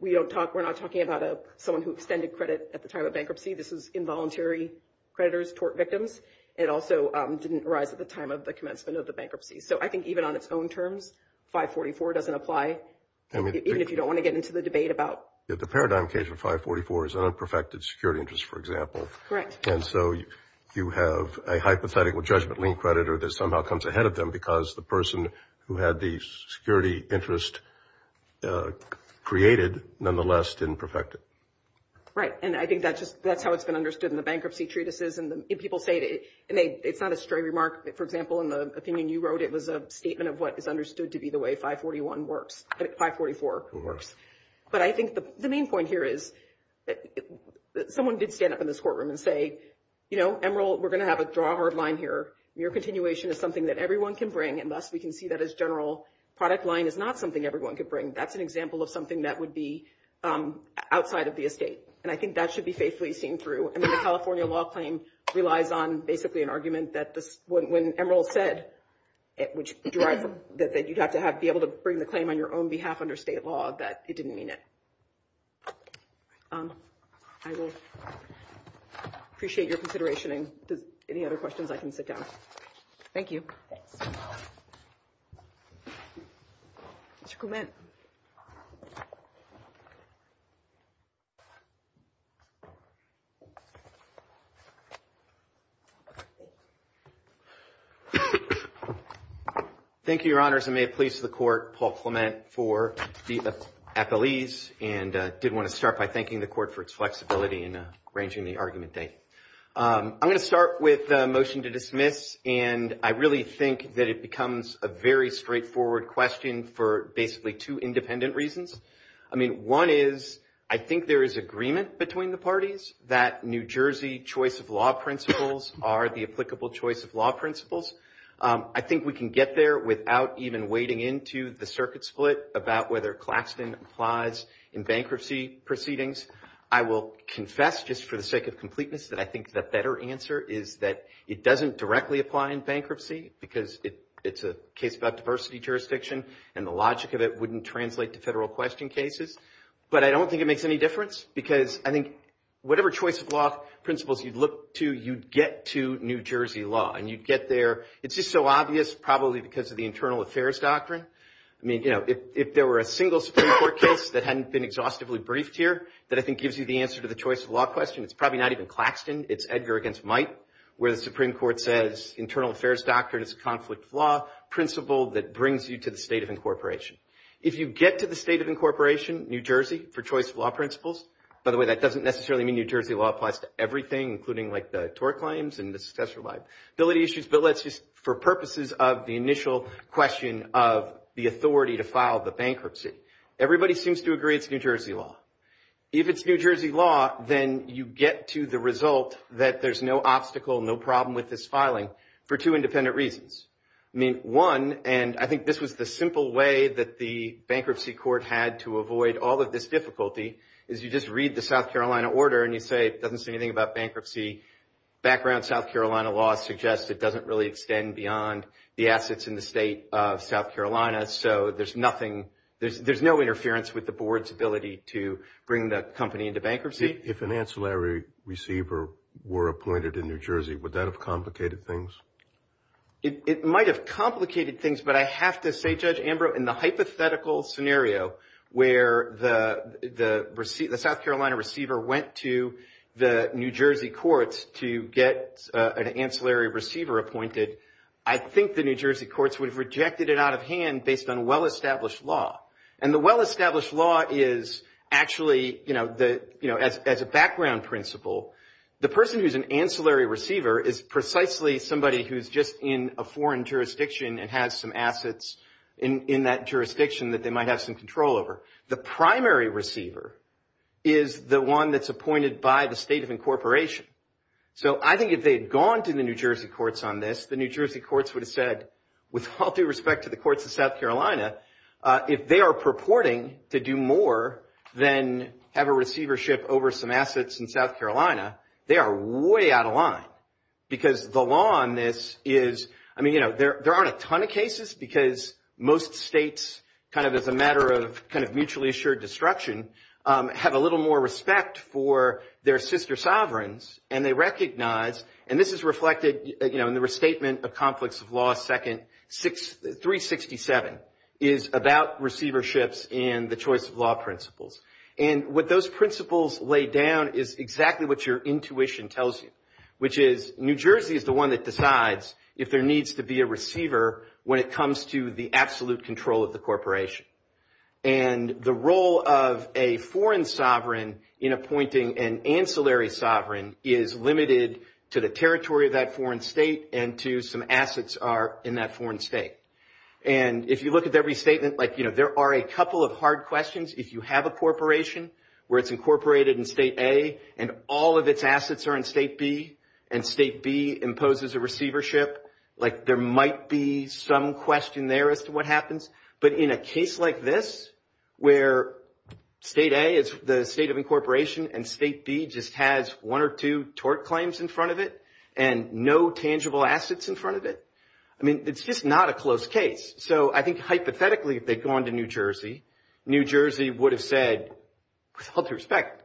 we're not talking about someone who extended credit at the time of bankruptcy. This was involuntary creditors, tort victims. It also didn't arise at the time of the commencement of the bankruptcy. So I think even on its own terms, 544 doesn't apply, even if you don't want to get into the debate about... Yeah, the paradigm case of 544 is unperfected security interests, for example. Right. And so you have a hypothetical judgment lien creditor that somehow comes ahead of them because the person who had the security interest created, nonetheless, didn't perfect it. Right. And I think that's how it's been understood in the bankruptcy treatises. And if people say, and it's not a straight remark, for example, in the opinion you wrote, it was a statement of what is understood to be the way 541 works, 544 works. But I think the main point here is that someone did stand up in this courtroom and say, Emerald, we're going to have a draw hard line here. Your continuation is something that everyone can bring unless we can see that as general product line is not something everyone could bring. That's an example of something that would be outside of the estate. And I think that should be faithfully seen through. And then the California law claim relies on, basically, an argument that when Emerald said, which you have to be able to bring the claim on your own behalf under state law, that he didn't mean it. I will appreciate your consideration. And any other questions, I can sit down. Thank you. Mr. Clement. Thank you, Your Honors. And may it please the court, Paul Clement, for the appellees. And I did want to start by thanking the court for its flexibility in arranging the argument today. I'm going to start with a motion to dismiss. And I really think that it becomes a very straightforward question for basically two independent reasons. I mean, one is I think there is agreement between the parties that New Jersey choice of law principles are the applicable choice of law principles. I think we can get there without even wading into the circuit split about whether Claxton applies in bankruptcy proceedings. I will confess, just for the sake of completeness, that I think the better answer is that it doesn't directly apply in bankruptcy because it's a case about diversity jurisdiction. And the logic of it wouldn't translate to federal question cases. But I don't think it makes any difference because I think whatever choice of law principles you look to, you get to New Jersey law. And you get there. It's just so obvious probably because of the internal affairs doctrine. I mean, if there were a single Supreme Court case that hadn't been exhaustively briefed here that I think gives you the answer to the choice of law question, it's probably not even Claxton. It's Edgar against Mike where the Supreme Court says internal affairs doctrine is a conflict law principle that brings you to the state of incorporation. If you get to the state of incorporation, New Jersey, for choice of law principles. By the way, that doesn't necessarily mean New Jersey law applies to everything, including like the tort claims and the special liability issues. But let's just, for purposes of the initial question of the authority to file the bankruptcy, everybody seems to agree it's New Jersey law. If it's New Jersey law, then you get to the result that there's no obstacle, no problem with this filing for two independent reasons. I mean, one, and I think this was the simple way that the bankruptcy court had to avoid all of this difficulty, is you just read the South Carolina order and you'd say it doesn't say anything about bankruptcy. Background South Carolina law suggests it doesn't really extend beyond the assets in the state of South Carolina. So there's nothing, there's no interference with the board's ability to bring the company into bankruptcy. If an ancillary receiver were appointed in New Jersey, would that have complicated things? It might have complicated things, but I have to say, Judge Amber, in the hypothetical scenario where the South Carolina receiver went to the New Jersey courts to get an ancillary receiver appointed, I think the New Jersey courts would have rejected it out of hand based on well-established law. And the well-established law is actually, as a background principle, the person who's an ancillary receiver is precisely somebody who's just in a foreign jurisdiction and has some assets in that jurisdiction that they might have some control over. The primary receiver is the one that's appointed by the state of incorporation. So I think if they had gone to the New Jersey courts on this, the New Jersey courts would have said, with all due respect to the courts of South Carolina, if they are purporting to do more than have a receivership over some assets in South Carolina, they are way out of line. Because the law on this is, I mean, you know, there aren't a ton of cases, because most states, kind of as a matter of mutually assured destruction, have a little more respect for their sister sovereigns. And they recognize, and this is reflected in the restatement of Conflicts of Law, second 367, is about receiverships and the choice of law principles. And what those principles lay down is exactly what your intuition tells you, which is New Jersey is the one that decides if there needs to be a receiver when it comes to the absolute control of the corporation. And the role of a foreign sovereign in appointing an ancillary sovereign is limited to the territory of that foreign state and to some assets are in that foreign state. And if you look at every statement, like, you know, there are a couple of hard questions if you have a corporation where it's incorporated in state A and all of its assets are in state B, and state B imposes a receivership, like there might be some question there as to what happens. But in a case like this, where state A is the state of incorporation and state B just has one or two tort claims in front of it and no tangible assets in front of it, I mean, it's just not a close case. So I think hypothetically, if they'd gone to New Jersey, New Jersey would have said, with all due respect,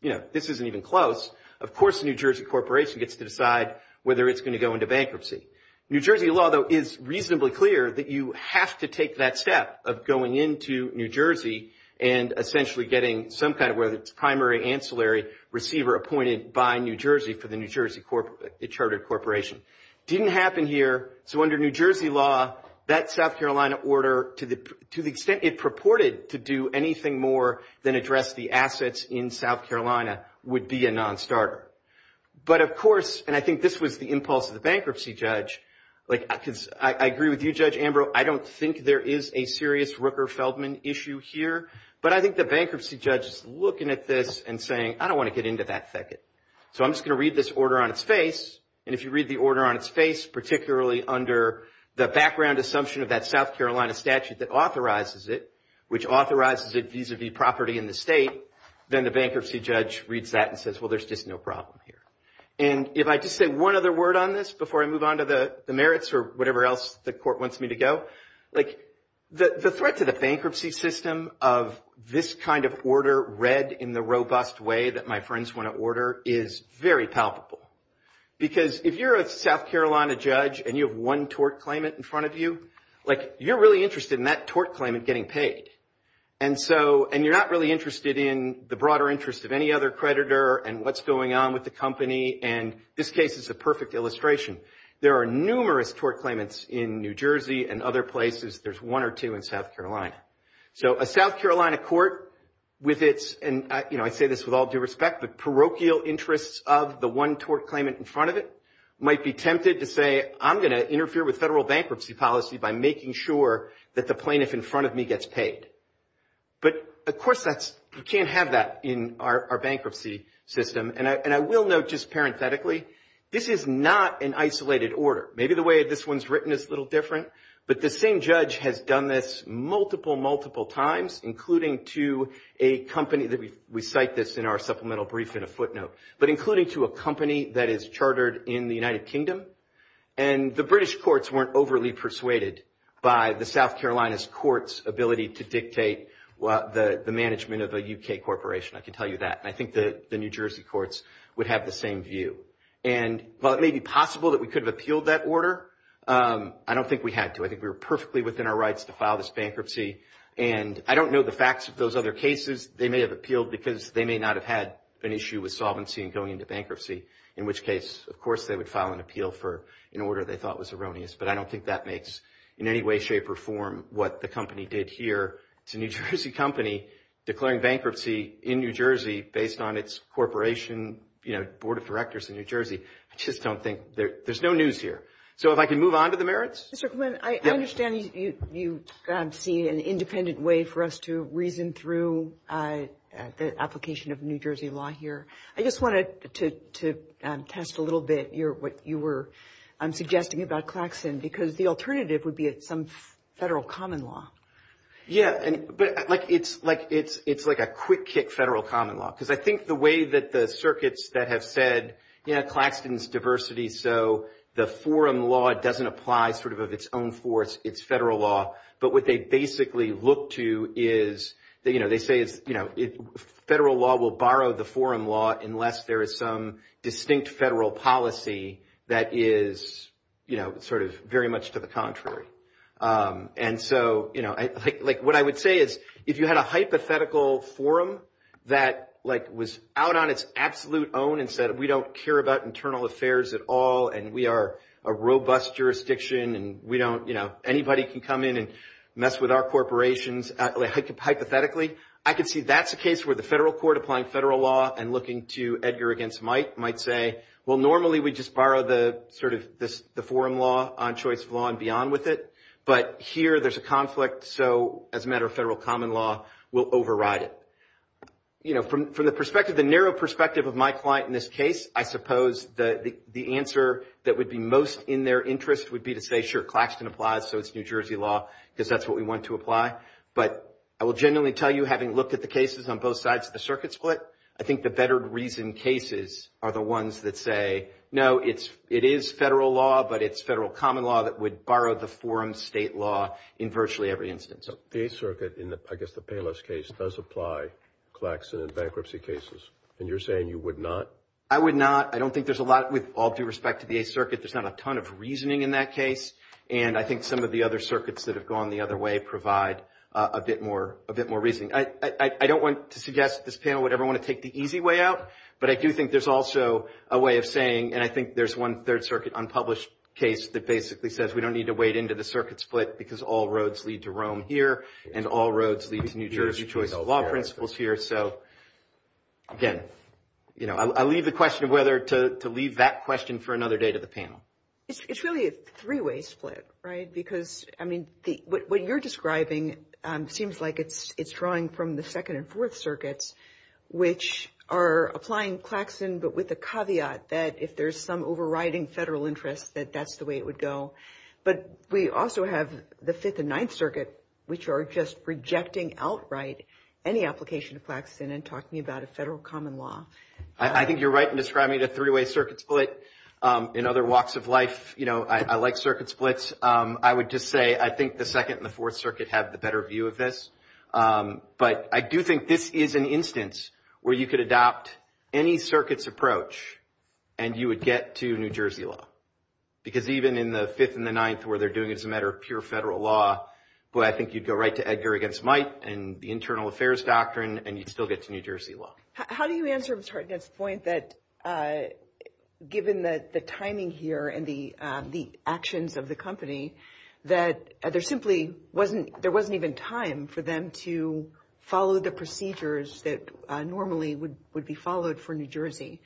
you know, this isn't even close. Of course, the New Jersey corporation gets to decide whether it's going to go into bankruptcy. New Jersey Law, though, is reasonably clear that you have to take that step of going into New Jersey and essentially getting some kind of primary ancillary receiver appointed by New Jersey for the New Jersey chartered corporation. Didn't happen here, so under New Jersey Law, that South Carolina order, to the extent it purported to do anything more than address the assets in South Carolina would be a non-starter. But of course, and I think this was the impulse of the bankruptcy judge, like I agree with you, Judge Ambrose, I don't think there is a serious Rooker-Feldman issue here, but I think the bankruptcy judge is looking at this and saying, I don't want to get into that second. So I'm just going to read this order on its face, and if you read the order on its face, particularly under the background assumption of that South Carolina statute that authorizes it, which authorizes it vis-a-vis property in the state, then the bankruptcy judge reads that and says, well, there's just no problem here. And if I could say one other word on this before I move on to the merits or whatever else the court wants me to go, the threat to the bankruptcy system of this kind of order read in the robust way that my friends want to order is very palpable. Because if you're a South Carolina judge and you have one tort claimant in front of you, like you're really interested in that tort claimant getting paid. And so, and you're not really interested in the broader interest of any other creditor and what's going on with the company. And this case is a perfect illustration. There are numerous tort claimants in New Jersey and other places. There's one or two in South Carolina. So a South Carolina court with its, and I say this with all due respect, the parochial interests of the one tort claimant in front of it might be tempted to say, I'm gonna interfere with federal bankruptcy policy by making sure that the plaintiff in front of me gets paid. But of course that's, we can't have that in our bankruptcy system. And I will note just parenthetically, this is not an isolated order. Maybe the way this one's written is a little different, but the same judge has done this multiple, multiple times, including to a company that we cite this in our supplemental brief in a footnote, but including to a company that is chartered in the United Kingdom. And the British courts weren't overly persuaded by the South Carolina's courts ability to dictate the management of a UK corporation. I can tell you that. And I think the New Jersey courts would have the same view. And while it may be possible that we could have appealed that order, I don't think we had to. I think we were perfectly within our rights to file this bankruptcy. And I don't know the facts of those other cases. They may have appealed because they may not have had an issue with solvency and going into bankruptcy, in which case, of course, they would file an appeal for an order they thought was erroneous. But I don't think that makes in any way, shape or form what the company did here. It's a New Jersey company declaring bankruptcy in New Jersey based on its corporation, board of directors in New Jersey. I just don't think, there's no news here. So if I can move on to the merits. Mr. Quinn, I understand you see an independent way for us to reason through the application of New Jersey law here. I just wanted to test a little bit what you were suggesting about Claxton because the alternative would be at some federal common law. Yeah, but it's like a quick kick federal common law because I think the way that the circuits that have said, yeah, Claxton's diversity. So the forum law doesn't apply sort of its own force, its federal law. But what they basically look to is, they say federal law will borrow the forum law unless there is some distinct federal policy that is sort of very much to the contrary. And so what I would say is, if you had a hypothetical forum that was out on its absolute own and said, we don't care about internal affairs at all and we are a robust jurisdiction and we don't, you know, anybody can come in and mess with our corporations. Hypothetically, I could see that's a case where the federal court applying federal law and looking to Edgar against Mike might say, well, normally we just borrow the sort of the forum law on choice law and beyond with it. But here there's a conflict. So as a matter of federal common law, we'll override it. You know, from the perspective, the narrow perspective of my client in this case, I suppose that the answer that would be most in their interest would be to say, sure, Claxton applies. So it's New Jersey law because that's what we want to apply. But I will genuinely tell you, having looked at the cases on both sides of the circuit split, I think the better reason cases are the ones that say, no, it is federal law, but it's federal common law that would borrow the forum state law in virtually every instance. So the circuit in the, I guess the Payless case does apply Claxton and bankruptcy cases. And you're saying you would not? I would not. I don't think there's a lot, with all due respect to the Eighth Circuit, there's not a ton of reasoning in that case. And I think some of the other circuits that have gone the other way provide a bit more reasoning. I don't want to suggest that this panel would ever want to take the easy way out, but I do think there's also a way of saying, and I think there's one Third Circuit unpublished case that basically says, we don't need to wade into the circuit split because all roads lead to Rome here and all roads lead to New Jersey choice law principles here. So again, you know, I'll leave the question of whether to leave that question for another day to the panel. It's really a three-way split, right? Because I mean, what you're describing seems like it's drawing from the Second and Fourth Circuits, which are applying Claxton, but with the caveat that if there's some overriding federal interest that that's the way it would go. But we also have the Fifth and Ninth Circuit, which are just rejecting outright any application of Claxton and talking about a federal common law. I think you're right in describing the three-way circuit split. In other walks of life, you know, I like circuit splits. I would just say, I think the Second and the Fourth Circuit have the better view of this. But I do think this is an instance where you could adopt any circuit's approach and you would get to New Jersey law. Because even in the Fifth and the Ninth, where they're doing as a matter of pure federal law, boy, I think you'd go right to Edgar against Mike and the Internal Affairs Doctrine and you'd still get to New Jersey law. How do you answer Mr. Hartnett's point that given the timing here and the actions of the company, that there simply wasn't, there wasn't even time for them to follow the procedures that normally would be followed for New Jersey,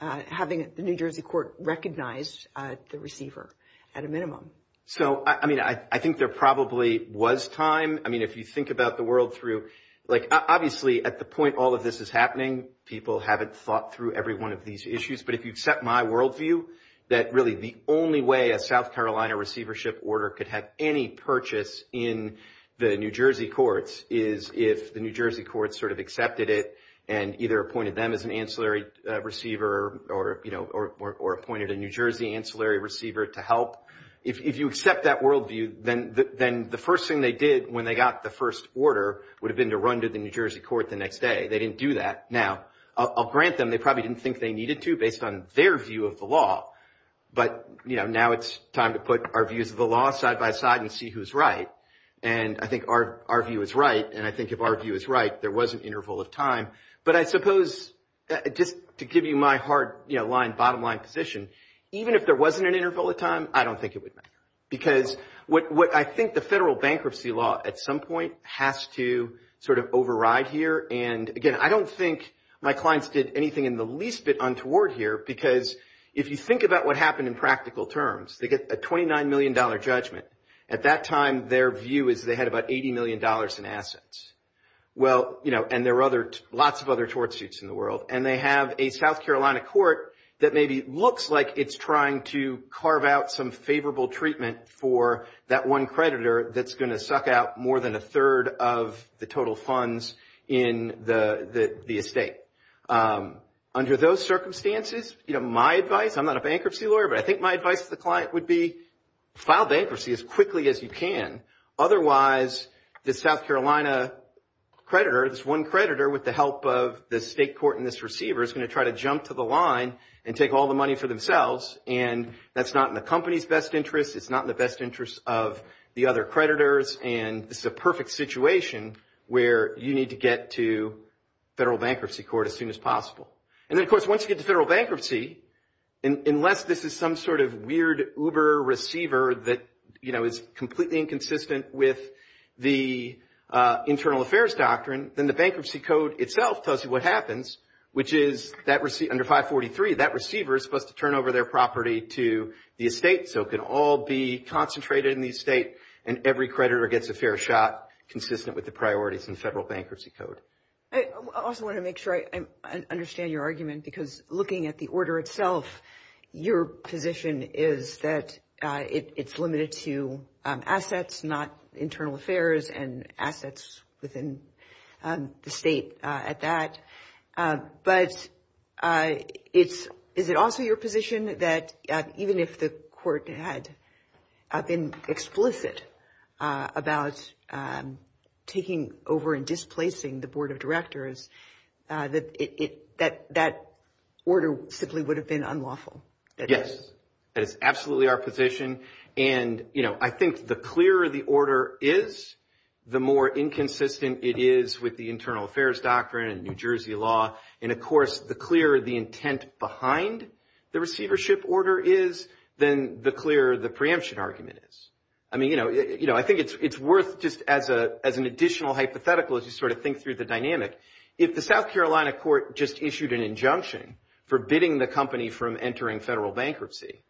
having the New Jersey court recognize the receiver at a minimum? So, I mean, I think there probably was time. I mean, if you think about the world through, like, obviously at the point all of this is happening, people haven't thought through every one of these issues. But if you accept my worldview, that really the only way a South Carolina receivership order could have any purchase in the New Jersey courts is if the New Jersey courts sort of accepted it and either appointed them as an ancillary receiver or, you know, or appointed a New Jersey ancillary receiver to help. If you accept that worldview, then the first thing they did when they got the first order would have been to run to the New Jersey court the next day. They didn't do that. Now, I'll grant them, they probably didn't think they needed to based on their view of the law. But, you know, now it's time to put our views of the law side by side and see who's right. And I think our view is right. And I think if our view is right, there was an interval of time. But I suppose just to give you my hard, you know, bottom line position, even if there wasn't an interval of time, I don't think it would matter. Because what I think the federal bankruptcy law at some point has to sort of override here. And again, I don't think my clients did anything in the least bit untoward here, because if you think about what happened in practical terms, they get a $29 million judgment. At that time, their view is they had about $80 million in assets. Well, you know, and there were other, lots of other tort suits in the world. And they have a South Carolina court that maybe looks like it's trying to carve out some favorable treatment for that one creditor that's going to suck out more than a third of the total funds in the estate. Under those circumstances, you know, my advice, I'm not a bankruptcy lawyer, but I think my advice to the client would be file bankruptcy as quickly as you can. Otherwise, the South Carolina creditor, this one creditor with the help of the state court and this receiver is going to try to jump to the line and take all the money for themselves. And that's not in the company's best interest. It's not in the best interest of the other creditors. And it's the perfect situation where you need to get to federal bankruptcy court as soon as possible. And then of course, once you get to federal bankruptcy, unless this is some sort of weird Uber receiver that, you know, is completely inconsistent with the internal affairs doctrine, then the bankruptcy code itself tells you what happens, which is under 543, that receiver is supposed to turn over their property to the estate so it can all be concentrated in the estate and every creditor gets a fair shot consistent with the priorities in federal bankruptcy code. I also want to make sure I understand your argument because looking at the order itself, your position is that it's limited to assets, not internal affairs and assets within the state at that. But is it also your position that even if the court had been explicit about taking over and displacing the board of directors, that order simply would have been unlawful? Yes, it's absolutely our position. And, you know, I think the clearer the order is, the more inconsistent it is with the internal affairs doctrine and New Jersey law. And of course, the clearer the intent behind the receivership order is, then the clearer the preemption argument is. I mean, you know, I think it's worth just as an additional hypothetical as you sort of think through the dynamic. If the South Carolina court just issued an injunction forbidding the company from entering federal bankruptcy,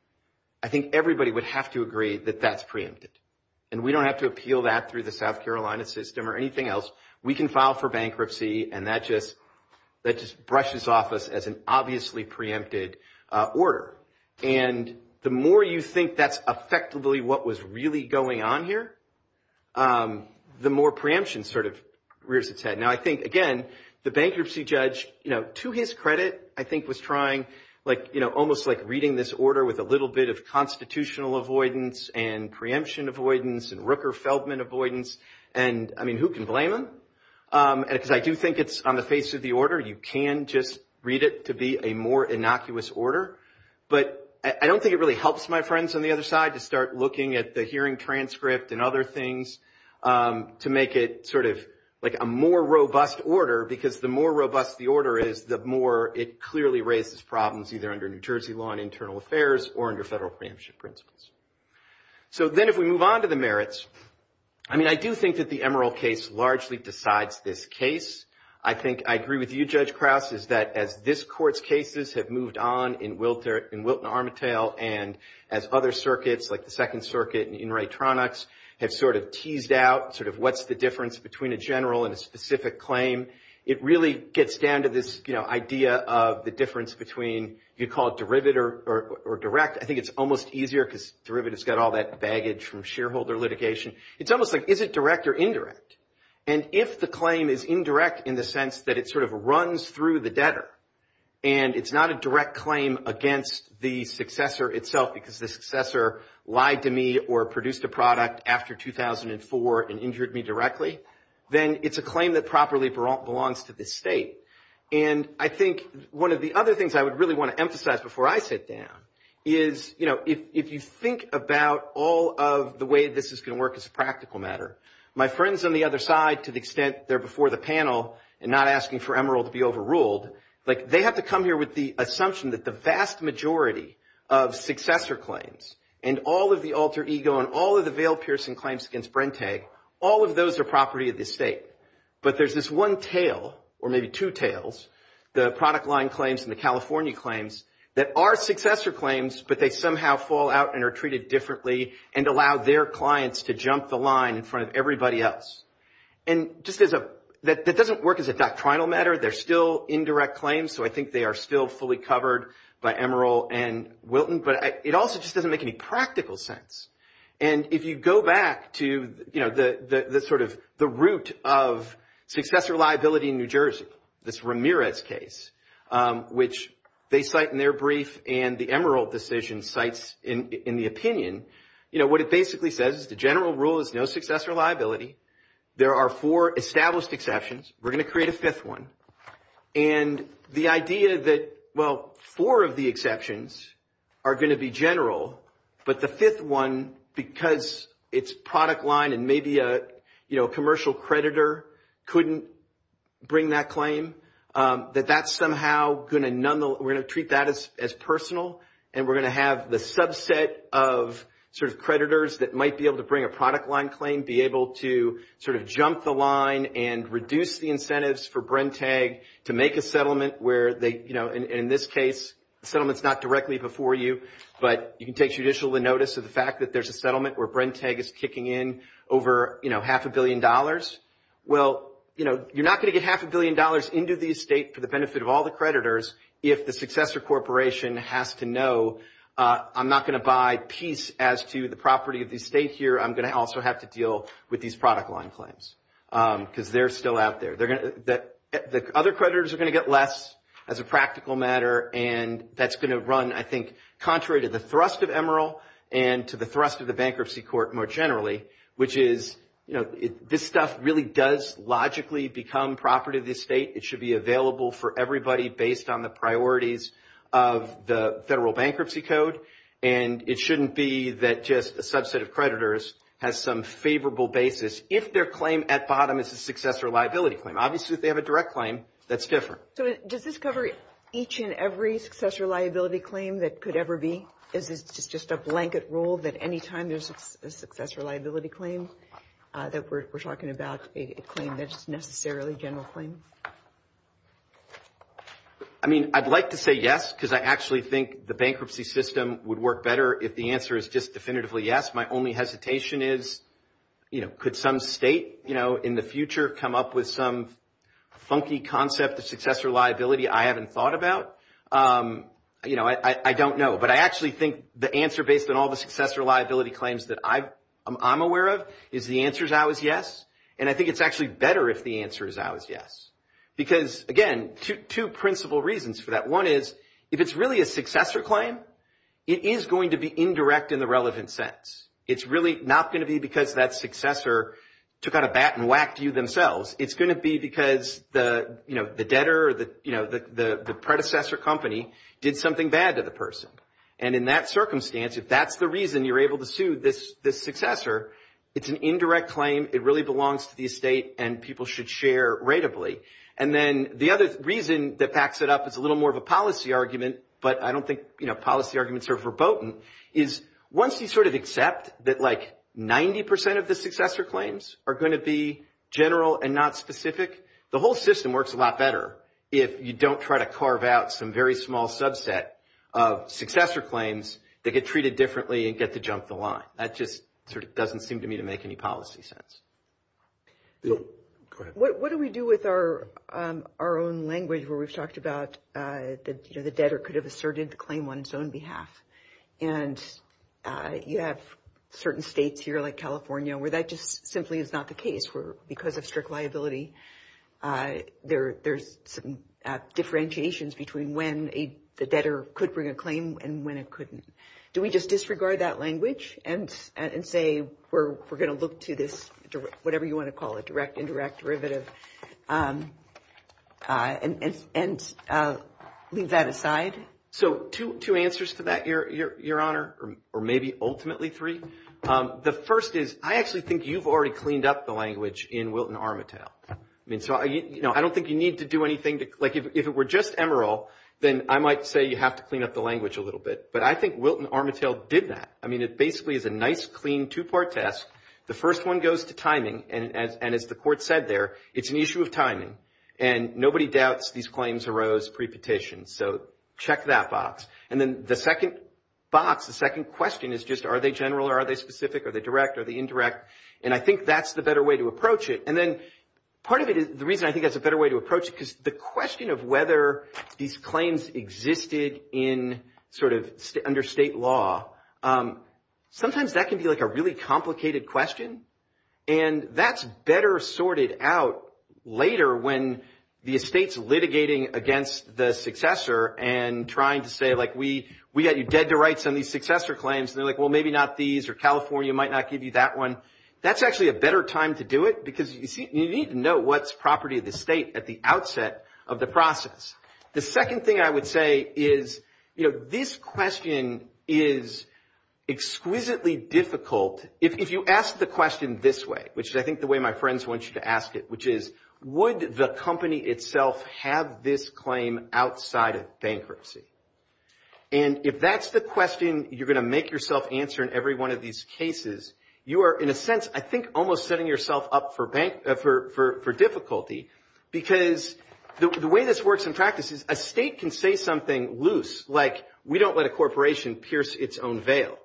I think everybody would have to agree that that's preempted. And we don't have to appeal that through the South Carolina system or anything else. We can file for bankruptcy and that just brushes off us as an obviously preempted order. And the more you think that's effectively what was really going on here, the more preemption sort of rears its head. Now, I think, again, the bankruptcy judge, you know, to his credit, I think was trying, like, you know, almost like reading this order with a little bit of constitutional avoidance and preemption avoidance and Rooker-Feldman avoidance. And I mean, who can blame him? And I do think it's on the face of the order. You can just read it to be a more innocuous order. But I don't think it really helps my friends on the other side to start looking at the hearing transcript and other things to make it sort of like a more robust order, because the more robust the order is, the more it clearly raises problems, either under New Jersey law and internal affairs or under federal bankruptcy principles. So then if we move on to the merits, I mean, I do think that the Emerald case largely decides this case. I think I agree with you, Judge Krauss, is that as this court's cases have moved on in Wilton-Armitage and as other circuits, like the Second Circuit and In re Tronics, have sort of teased out sort of what's the difference between a general and a specific claim, it really gets down to this, you know, idea of the difference between, if you call it derivative or direct, I think it's almost easier, because derivative's got all that baggage from shareholder litigation. It's almost like, is it direct or indirect? And if the claim is indirect in the sense that it sort of runs through the debtor, and it's not a direct claim against the successor itself, because the successor lied to me or produced a product after 2004 and injured me directly, then it's a claim that properly belongs to this state. And I think one of the other things I would really want to emphasize before I sit down is, you know, if you think about all of the way this is going to work as a practical matter, my friends on the other side, to the extent they're before the panel and not asking for Emeril to be overruled, like they have to come here with the assumption that the vast majority of successor claims and all of the alter ego and all of the veil-piercing claims against Brente, all of those are property of the state. But there's this one tail, or maybe two tails, the product line claims and the California claims that are successor claims, but they somehow fall out and are treated differently and allow their clients to jump the line in front of everybody else. And that doesn't work as a doctrinal matter. They're still indirect claims, so I think they are still fully covered by Emeril and Wilton, but it also just doesn't make any practical sense. And if you go back to, you know, the sort of the root of successor liability in New Jersey, that's Ramirez's case, which they cite in their brief and the Emeril decision cites in the opinion, you know, what it basically says the general rule is no successor liability. There are four established exceptions. We're going to create a fifth one. And the idea that, well, four of the exceptions are going to be general, but the fifth one, because it's product line and maybe a, you know, commercial creditor couldn't bring that claim, that that's somehow going to, we're going to treat that as personal and we're going to have the subset of sort of creditors that might be able to bring a product line claim, be able to sort of jump the line and reduce the incentives for Brentag to make a settlement where they, you know, in this case, the settlement's not directly before you, but you can take judicial notice of the fact that there's a settlement where Brentag is kicking in over, you know, half a billion dollars. Well, you know, you're not going to get half a billion dollars into the estate for the benefit of all the creditors if the successor corporation has to know I'm not going to buy piece as to the property of the estate here, I'm going to also have to deal with these product line claims because they're still out there. They're going to, the other creditors are going to get left as a practical matter and that's going to run, I think, contrary to the thrust of Emeril and to the thrust of the bankruptcy court more generally, which is, you know, this stuff really does logically become property of the estate. It should be available for everybody based on the priorities of the federal bankruptcy code and it shouldn't be that just a subset of creditors has some favorable basis if their claim at bottom is a successor liability claim. Obviously, if they have a direct claim, that's different. So, does this cover each and every successor liability claim that could ever be? Is it just a blanket rule that anytime there's a successor liability claim that we're talking about a claim that's necessarily general claim? I mean, I'd like to say yes because I actually think the bankruptcy system would work better if the answer is just definitively yes. My only hesitation is, you know, could some state, you know, in the future come up with some funky concept of successor liability I haven't thought about? You know, I don't know, but I actually think the answer based on all the successor liability claims that I'm aware of is the answer is always yes and I think it's actually better if the answer is always yes because, again, two principal reasons for that. One is if it's really a successor claim, it is going to be indirect in the relevant sense. It's really not going to be because that successor took out a bat and whacked you themselves. It's going to be because the, you know, the debtor or the, you know, the predecessor company did something bad to the person and in that circumstance, if that's the reason you're able to sue this successor, it's an indirect claim. It really belongs to the estate and people should share relatively. And then the other reason that backs it up is a little more of a policy argument, but I don't think, you know, policy arguments are verboten is once you sort of accept that like 90% of the successor claims are going to be general and not specific, the whole system works a lot better if you don't try to carve out some very small subset of successor claims that get treated differently and get to jump the line. That just sort of doesn't seem to me to make any policy sense. What do we do with our own language where we've talked about the debtor could have asserted the claim on his own behalf and you have certain states here like California where that just simply is not the case where because of strict liability, there's differentiations between when the debtor could bring a claim and when it couldn't. Do we just disregard that language and say we're going to look to this, whatever you want to call it, direct, indirect, derivative and leave that aside? So two answers to that, Your Honor, or maybe ultimately three. The first is I actually think you've already cleaned up the language in Wilton-Armitage. I don't think you need to do anything. Like if it were just Emeril, then I might say you have to clean up the language a little bit. But I think Wilton-Armitage did that. I mean, it basically is a nice, clean two-part test. The first one goes to timing and as the court said there, it's an issue of timing and nobody doubts these claims arose pre-petition. So check that box. And then the second box, the second question is just are they general or are they specific or the direct or the indirect? And I think that's the better way to approach it. And then part of it is the reason I think that's a better way to approach because the question of whether these claims existed in sort of under state law, sometimes that can be like a really complicated question and that's better sorted out later when the state's litigating against the successor and trying to say like, we got you dead to rights on these successor claims. And they're like, well, maybe not these or California might not give you that one. That's actually a better time to do it because you need to know what's property of the state at the outset of the process. The second thing I would say is, this question is exquisitely difficult. If you ask the question this way, which I think the way my friends want you to ask it, which is would the company itself have this claim outside of bankruptcy? And if that's the question you're gonna make yourself answer in every one of these cases, you are in a sense, I think almost setting yourself up for difficulty because the way this works in practice is a state can say something loose, like we don't let a corporation pierce its own veil.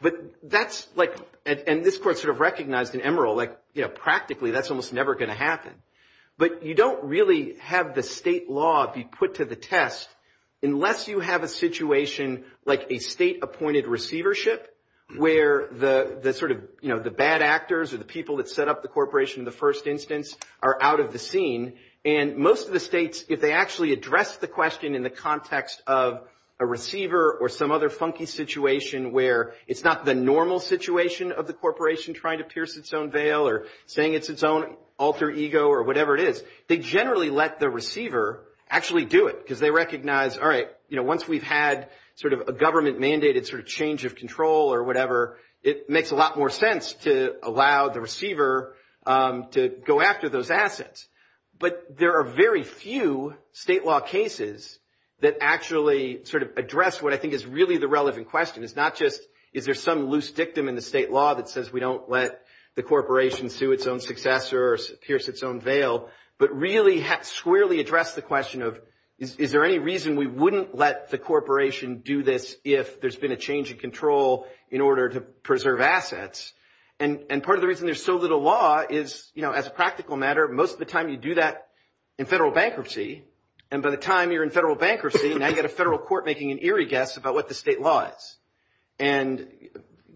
But that's like, and this court sort of recognized an emerald like, practically that's almost never gonna happen. But you don't really have the state law be put to the test unless you have a situation like a state appointed receivership where the sort of the bad actors or the people that set up the corporation in the first instance are out of the scene. And most of the states, if they actually address the question in the context of a receiver or some other funky situation where it's not the normal situation of the corporation trying to pierce its own veil or saying it's its own alter ego or whatever it is, they generally let the receiver actually do it because they recognize, once we've had sort of a government mandated sort of change of control or whatever, it makes a lot more sense to allow the receiver to go after those assets. But there are very few state law cases that actually sort of address what I think is really the relevant question. Is there some loose dictum in the state law that says we don't let the corporation sue its own successor or pierce its own veil, but really squarely address the question of, is there any reason we wouldn't let the corporation do this if there's been a change in control in order to preserve assets? And part of the reason there's so little law is as a practical matter, most of the time you do that in federal bankruptcy. And by the time you're in federal bankruptcy, now you've got a federal court making an eerie guess about what the state law is. And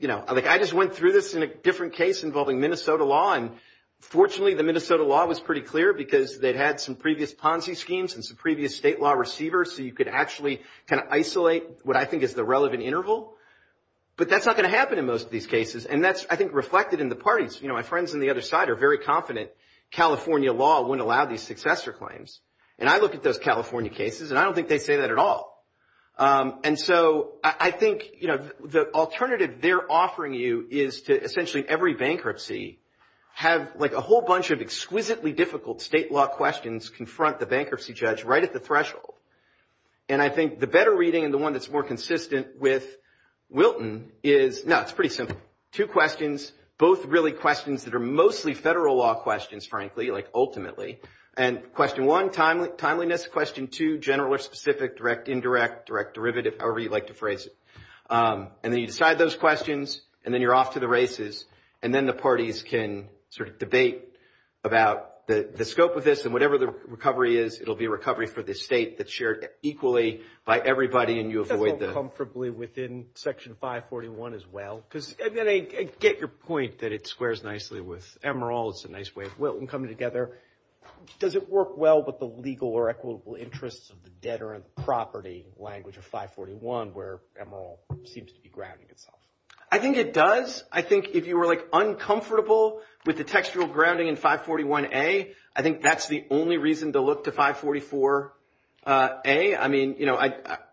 I just went through this in a different case involving Minnesota law. And fortunately, the Minnesota law was pretty clear because they'd had some previous Ponzi schemes and some previous state law receivers, so you could actually kind of isolate what I think is the relevant interval. But that's not going to happen in most of these cases. And that's, I think, reflected in the parties. My friends on the other side are very confident California law wouldn't allow these successor claims. And I look at those California cases and I don't think they'd say that at all. And so I think, you know, the alternative they're offering you is to essentially every bankruptcy have like a whole bunch of exquisitely difficult state law questions confront the bankruptcy judge right at the threshold. And I think the better reading and the one that's more consistent with Wilton is, no, it's pretty simple. Two questions, both really questions that are mostly federal law questions, frankly, like ultimately. And question one, timeliness. Question two, general or specific, direct, indirect, direct, derivative, however you like to phrase it. And then you decide those questions and then you're off to the races. And then the parties can sort of debate about the scope of this. And whatever the recovery is, it'll be a recovery for the state that's shared equally by everybody. And you avoid that. Comfortably within Section 541 as well, because I get your point that it squares nicely with Emerald. It's a nice way of Wilton coming together. Does it work well with the legal or equitable interests of the deterrent property language of 541 where Emerald seems to be grounding itself? I think it does. I think if you were like uncomfortable with the textual grounding in 541A, I think that's the only reason to look to 544A. I mean, you know,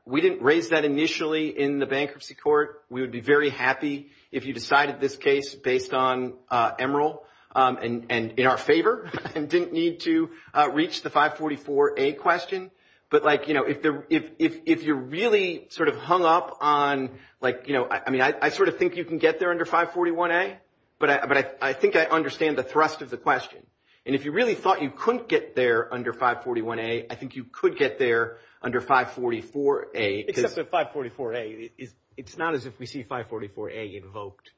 we didn't raise that initially in the bankruptcy court. We would be very happy if you decided this case based on Emerald and in our favor and didn't need to reach the 544A question. But like, you know, if you're really sort of hung up on like, you know, I mean, I sort of think you can get there under 541A, but I think I understand the thrust of the question. And if you really thought you couldn't get there under 541A, I think you could get there under 544A. It's up to 544A. It's not as if we see 544A invoked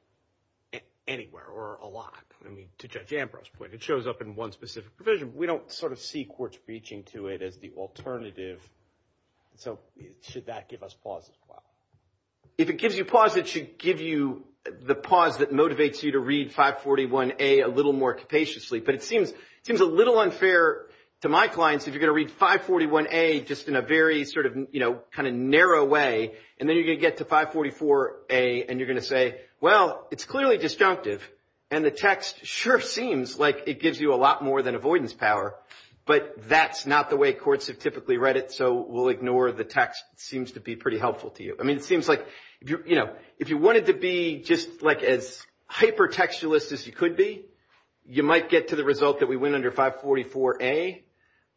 anywhere or a lot. I mean, to Judge Ambrose's point, it shows up in one specific provision. We don't sort of see courts reaching to it as the alternative. So should that give us pause as well? If it gives you pause, it should give you the pause that motivates you to read 541A a little more capaciously. But it seems a little unfair to my clients if you're going to read 541A just in a very sort of, you know, kind of narrow way. And then you're going to get to 544A and you're going to say, well, it's clearly destructive and the text sure seems like it gives you a lot more than avoidance power. But that's not the way courts have typically read it. So we'll ignore the text. It seems to be pretty helpful to you. I mean, it seems like, you know, if you wanted to be just like as hypertextualist as you could be, you might get to the result that we went under 544A.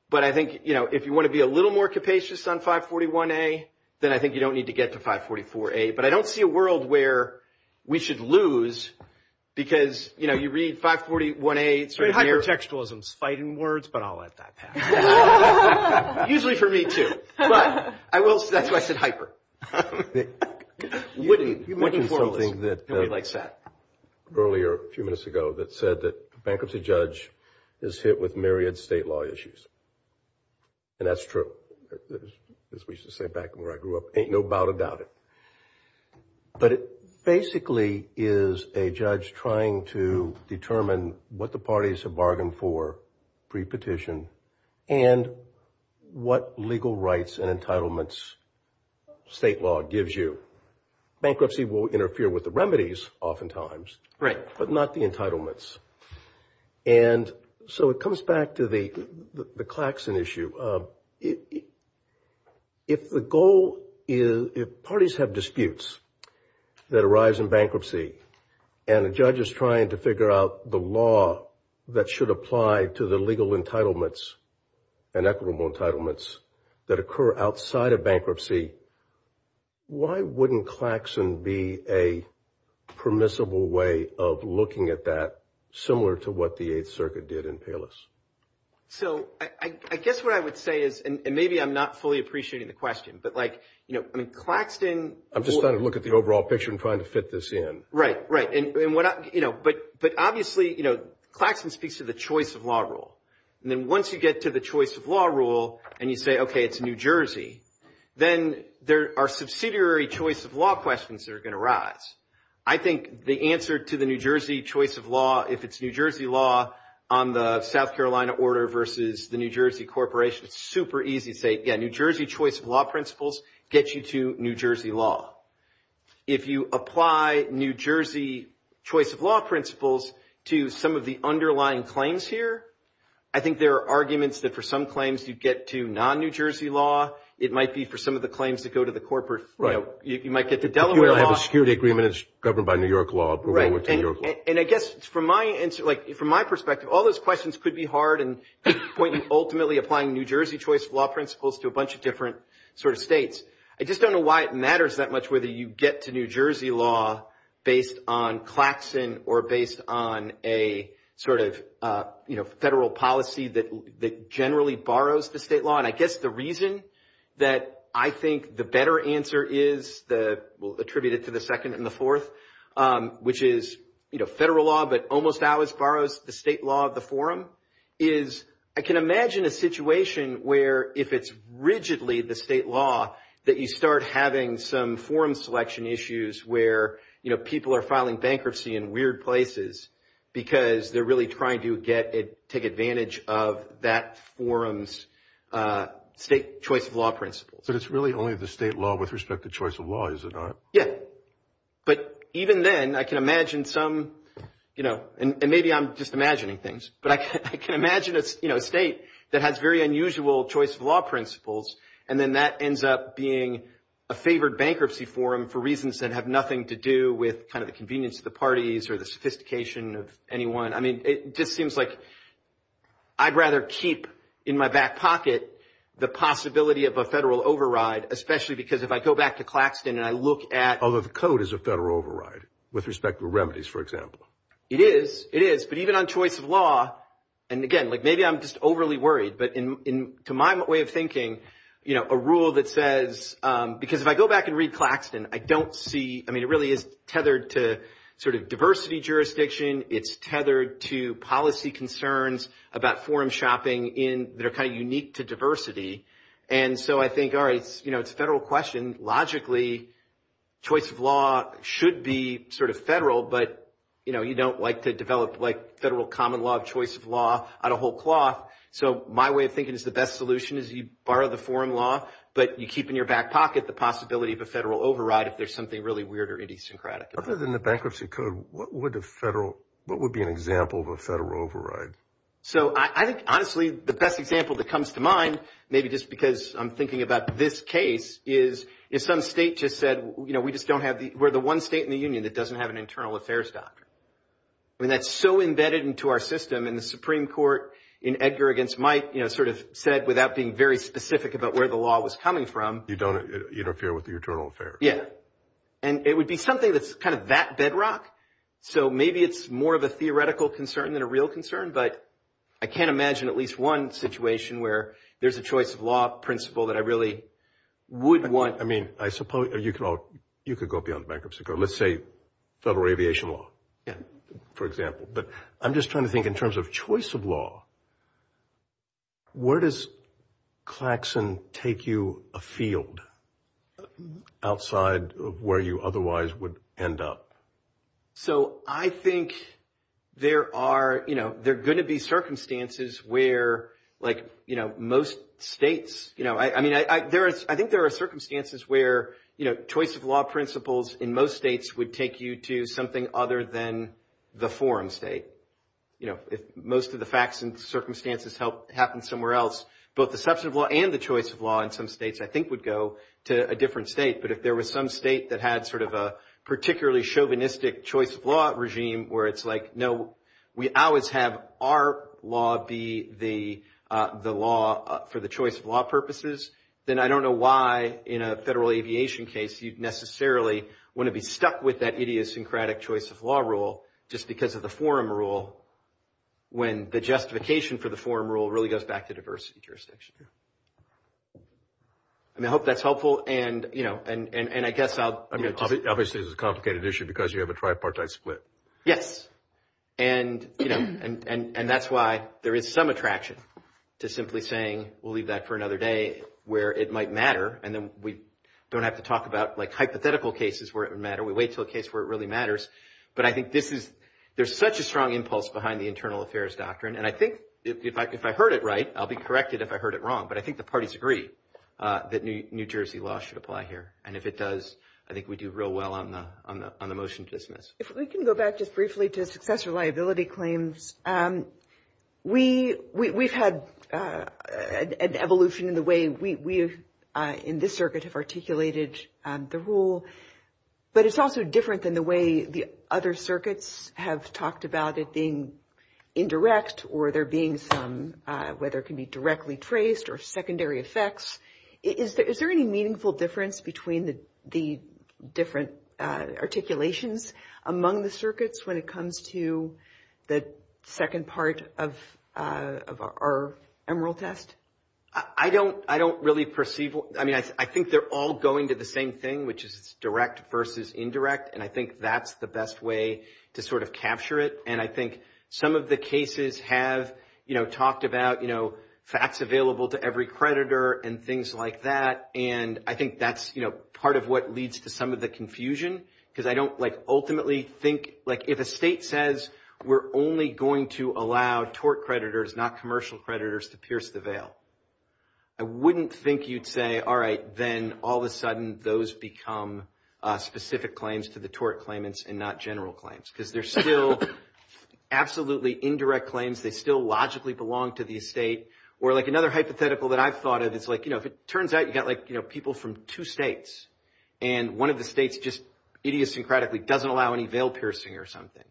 But I think, you know, if you want to be a little more capacious on 541A, then I think you don't need to get to 544A. But I don't see a world where we should lose because, you know, you read 541A. Hypertextualism is fighting words, but I'll let that pass. Usually for me too. But I will say that's why I said hyper. You mentioned something that earlier a few minutes ago that said that a bankruptcy judge is hit with myriad state law issues. And that's true. As we used to say back where I grew up, ain't no doubt about it. But it basically is a judge trying to determine what the parties have bargained for pre-petition and what legal rights and entitlements state law gives you. Bankruptcy will interfere with the remedies oftentimes. Right. But not the entitlements. And so it comes back to the Claxton issue. If the goal is, if parties have disputes that arise in bankruptcy and a judge is trying to figure out the law that should apply to the legal entitlements and equitable entitlements that occur outside of bankruptcy, why wouldn't Claxton be a permissible way of looking at that similar to what the 8th Circuit did in Palos? So I guess what I would say is, and maybe I'm not fully appreciating the question, but like, you know, I mean, Claxton... I'm just trying to look at the overall picture and trying to fit this in. Right, right. And what I, you know, but obviously, you know, Claxton speaks to the choice of law rule. And then once you get to the choice of law rule and you say, OK, it's New Jersey, then there are subsidiary choice of law questions that are going to arise. I think the answer to the New Jersey choice of law, if it's New Jersey law on the South Carolina order versus the New Jersey corporation, it's super easy to say, yeah, New Jersey choice of law principles gets you to New Jersey law. If you apply New Jersey choice of law principles to some of the underlying claims here, I think there are arguments that for some claims you get to non-New Jersey law. It might be for some of the claims to go to the corporate. Right. You might get to Delaware law. If you have a security agreement that's governed by New York law. Right, and I guess from my answer, like from my perspective, all those questions could be hard. And the point is ultimately applying New Jersey choice of law principles to a bunch of different sort of states. I just don't know why it matters that much whether you get to New Jersey law based on Claxton or based on a sort of, you know, federal policy that generally borrows the state law. And I guess the reason that I think the better answer is that will attribute it to the second and the fourth, which is, you know, federal law, but almost always borrows the state law of the forum, is I can imagine a situation where if it's rigidly the state law that you start having some forum selection issues where, you know, people are filing bankruptcy in weird places because they're really trying to get it, take advantage of that forum's state choice of law principles. So it's really only the state law with respect to choice of law, is it not? Yeah, but even then, I can imagine some, you know, and maybe I'm just imagining things, but I can imagine a state that has very unusual choice of law principles. And then that ends up being a favored bankruptcy forum for reasons that have nothing to do with kind of the convenience of the parties or the sophistication of anyone. I mean, it just seems like I'd rather keep in my back pocket the possibility of a federal override, especially because if I go back to Claxton and I look at... Although the code is a federal override with respect to remedies, for example. It is, it is. But even on choice of law, and again, like maybe I'm just overly worried, but to my way of thinking, you know, a rule that says, because if I go back and read Claxton, I mean, it really is tethered to sort of diversity jurisdiction. It's tethered to policy concerns about forum shopping in that are kind of unique to diversity. And so I think, all right, you know, it's a federal question. Logically, choice of law should be sort of federal, but, you know, you don't like to develop like federal common law of choice of law out of whole cloth. So my way of thinking is the best solution is you borrow the foreign law, but you keep in your back pocket the possibility of a federal override if there's something really weird or idiosyncratic. Other than the bankruptcy code, what would a federal, what would be an example of a federal override? So I think, honestly, the best example that comes to mind, maybe just because I'm thinking about this case is if some state just said, you know, we just don't have the, we're the one state in the union that doesn't have an internal affairs doctor. I mean, that's so embedded into our system and the Supreme Court in Edgar against Mike, you know, sort of said without being very specific about where the law was coming from. You don't interfere with the internal affairs. Yeah. And it would be something that's kind of that bedrock. So maybe it's more of a theoretical concern than a real concern. But I can't imagine at least one situation where there's a choice of law principle that I really would want. I mean, I suppose you could go beyond bankruptcy. Let's say federal aviation law, for example. But I'm just trying to think in terms of choice of law. Where does Claxon take you a field outside of where you otherwise would end up? So I think there are, you know, they're going to be circumstances where like, you know, most states, you know, I mean, I, there is, I think there are circumstances where, you know, choice of law principles in most states would take you to something other than the foreign state. You know, if most of the facts and circumstances help happen somewhere else, both the substantive law and the choice of law in some states, I think, would go to a different state. But if there was some state that had sort of a particularly chauvinistic choice of law regime where it's like, no, we always have our law be the law for the choice of law purposes. Then I don't know why in a federal aviation case, you'd necessarily want to be stuck with that idiosyncratic choice of law rule just because of the forum rule when the justification for the forum rule really goes back to diversity jurisdiction. And I hope that's helpful. And, you know, and I guess I'll, I mean, obviously, it's a complicated issue because you have a tripartite split. Yes. And, you know, and that's why there is some attraction to simply saying, we'll leave that for another day where it might matter. And then we don't have to talk about like hypothetical cases where it would matter. We wait till a case where it really matters. But I think this is, there's such a strong impulse behind the internal affairs doctrine. And I think if I heard it right, I'll be corrected if I heard it wrong. But I think the parties agree that New Jersey law should apply here. And if it does, I think we do real well on the motion to dismiss. If we can go back just briefly to successful liability claims, we've had an evolution in the way we in this circuit have articulated the rule. But it's also different than the way the other circuits have talked about it being indirect or there being some, whether it can be directly traced or secondary effects. Is there any meaningful difference between the different articulations among the circuits when it comes to the second part of our Emerald Test? I don't really perceive, I mean, I think they're all going to the same thing, which is direct versus indirect. And I think that's the best way to sort of capture it. And I think some of the cases have talked about facts available to every creditor and things like that. And I think that's part of what leads to some of the confusion because I don't ultimately think, like if a state says we're only going to allow tort creditors, not commercial creditors, to pierce the veil, I wouldn't think you'd say, all right, then all of a sudden, those become specific claims to the tort claimants and not general claims because they're still absolutely indirect claims. They still logically belong to the state. Or like another hypothetical that I've thought of, it's like, you know, if it turns out you've got, like, you know, people from two states and one of the states just idiosyncratically doesn't allow any veil piercing or something,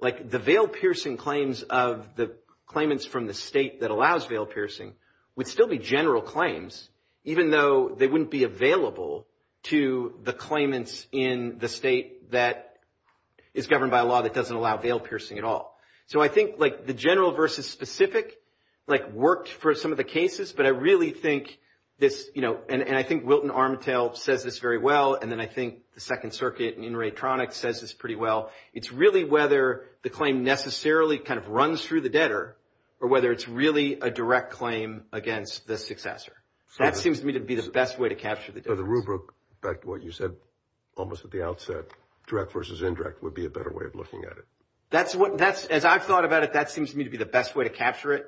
like the veil piercing claims of the claimants from the state that allows veil piercing would still be general claims, even though they wouldn't be available to the claimants in the state that is governed by a law that doesn't allow veil piercing at all. So I think, like, the general versus specific, like, works for some of the cases, but I really think that, you know, and I think Wilton Armitage says this very well. And then I think the Second Circuit and Ray Tronick says this pretty well. It's really whether the claim necessarily kind of runs through the debtor or whether it's really a direct claim against the successor. That seems to me to be the best way to capture it. So the rubric, back to what you said, almost at the outset, direct versus indirect would be a better way of looking at it. That's what that's, as I've thought about it, that seems to me to be the best way to capture it.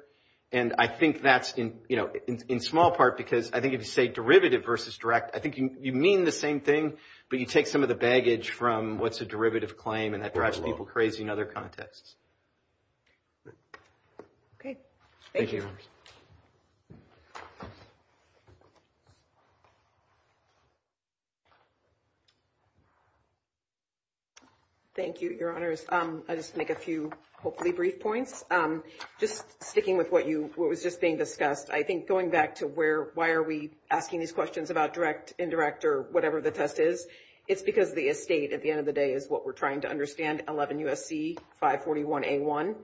And I think that's in, you know, in small part, because I think if you say derivative versus direct, I think you mean the same thing, but you take some of the baggage from what's a derivative claim and that drives people crazy in other contexts. OK. Thank you, Your Honors. I just make a few, hopefully, brief points. Just sticking with what you, what was just being discussed, I think going back to where, why are we asking these questions about direct, indirect, or whatever the test is? It's because the estate at the end of the day is what we're trying to understand, 11 U.S.C. 541A1.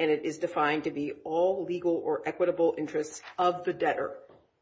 And it is defined to be all legal or equitable interests of the debtor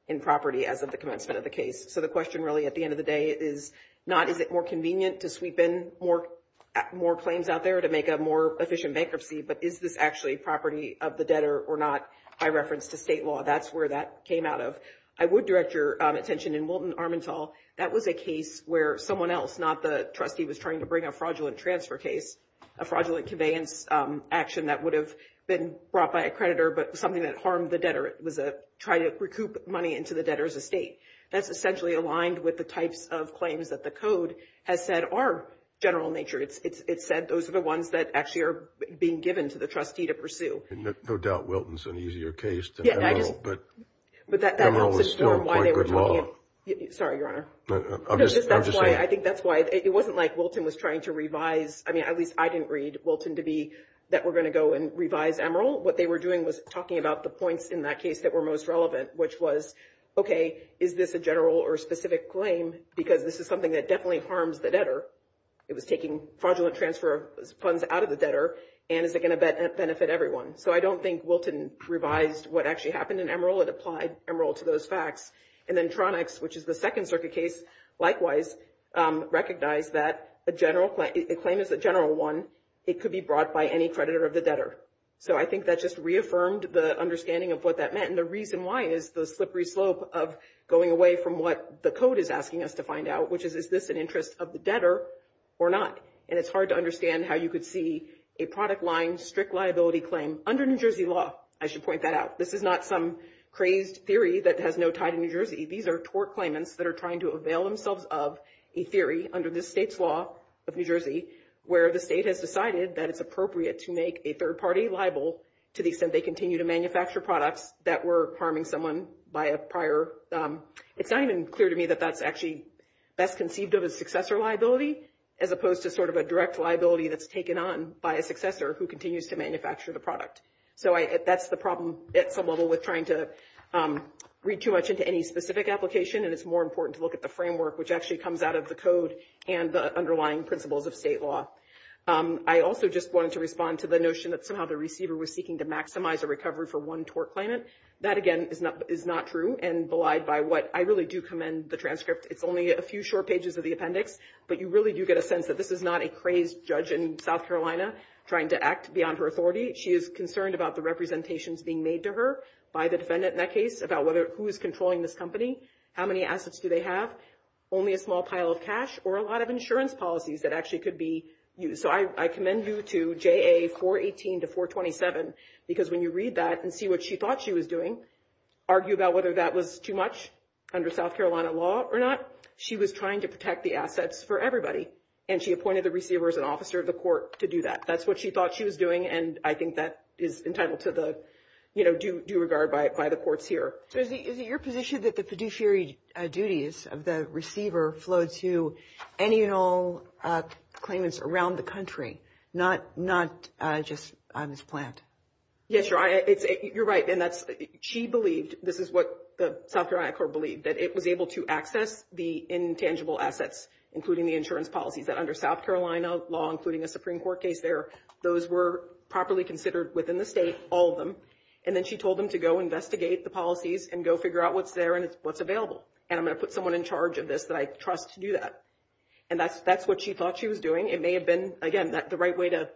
in property as of the commencement of the case. So the question really at the end of the day is not, is it more convenient to sweep in more claims out there to make a more efficient bankruptcy, but is this actually property of the debtor or not? I reference the state law. That's where that came out of. I would direct your attention in Wilton-Armenthal. That was a case where someone else, not the trustee, was trying to bring a fraudulent transfer case, a fraudulent conveyance action that would have been brought by a creditor, but something that harmed the debtor was to try to recoup money into the debtor's estate. That's essentially aligned with the types of claims that the code has said are general nature. It said those are the ones that actually are being given to the trustee to pursue. And no doubt Wilton's an easier case. Yeah, that is. But Emeril was still quite good law. Sorry, Your Honor. I think that's why it wasn't like Wilton was trying to revise. I mean, at least I didn't read Wilton to be that we're going to go and revise Emeril. What they were doing was talking about the points in that case that were most relevant, which was, okay, is this a general or specific claim? Because this is something that definitely harms the debtor. It was taking fraudulent transfer funds out of the debtor. And is it going to benefit everyone? So I don't think Wilton revised what actually happened in Emeril. It applied Emeril to those facts. And then Tronics, which is the Second Circuit case, likewise, recognized that a claim is a general one. It could be brought by any creditor of the debtor. So I think that just reaffirmed the understanding of what that meant. And the reason why is the slippery slope of going away from what the code is asking us to find out, which is, is this an interest of the debtor or not? And it's hard to understand how you could see a product line, strict liability claim under New Jersey law. I should point that out. This is not some crazed theory that has no tie to New Jersey. These are tort claimants that are trying to avail themselves of a theory under this state's law of New Jersey, where the state has decided that it's appropriate to make a third-party libel to the extent they continue to manufacture products that were harming someone by a prior... It's not even clear to me that that's actually best conceived of as successor liability, as opposed to sort of a direct liability that's taken on by a successor who continues to manufacture the product. So that's the problem at some level with trying to read too much into any specific application. And it's more important to look at the framework, which actually comes out of the code and the underlying principles of state law. I also just wanted to respond to the notion that somehow the receiver was seeking to maximize a recovery for one tort claimant. That, again, is not true and belied by what... I really do commend the transcript. It's only a few short pages of the appendix, but you really do get a sense that this is not a crazed judge in South Carolina trying to act beyond her authority. She is concerned about the representations being made to her by the defendant in that case about who is controlling this company, how many assets do they have, only a small pile of cash, or a lot of insurance policies that actually could be used. So I commend you to JA 418 to 427, because when you read that and see what she thought she was doing, argue about whether that was too much under South Carolina law or not, she was trying to protect the assets for everybody, and she appointed the receiver as an officer of the court to do that. That's what she thought she was doing, and I think that is intended to the due regard by the courts here. So is it your position that the fiduciary duties of the receiver flow to any and all claimants around the country, not just on this plant? Yes, you're right, and she believes this is what the South Carolina court believed, that it was able to access the intangible assets, including the insurance policies that under South Carolina law, including the Supreme Court case there, those were properly considered within the state, all of them, and then she told them to go investigate the policies and go figure out what's there and what's available, and I'm going to put someone in charge of this, and I trust to do that, and that's what she thought she was doing. It may have been, again, the right way to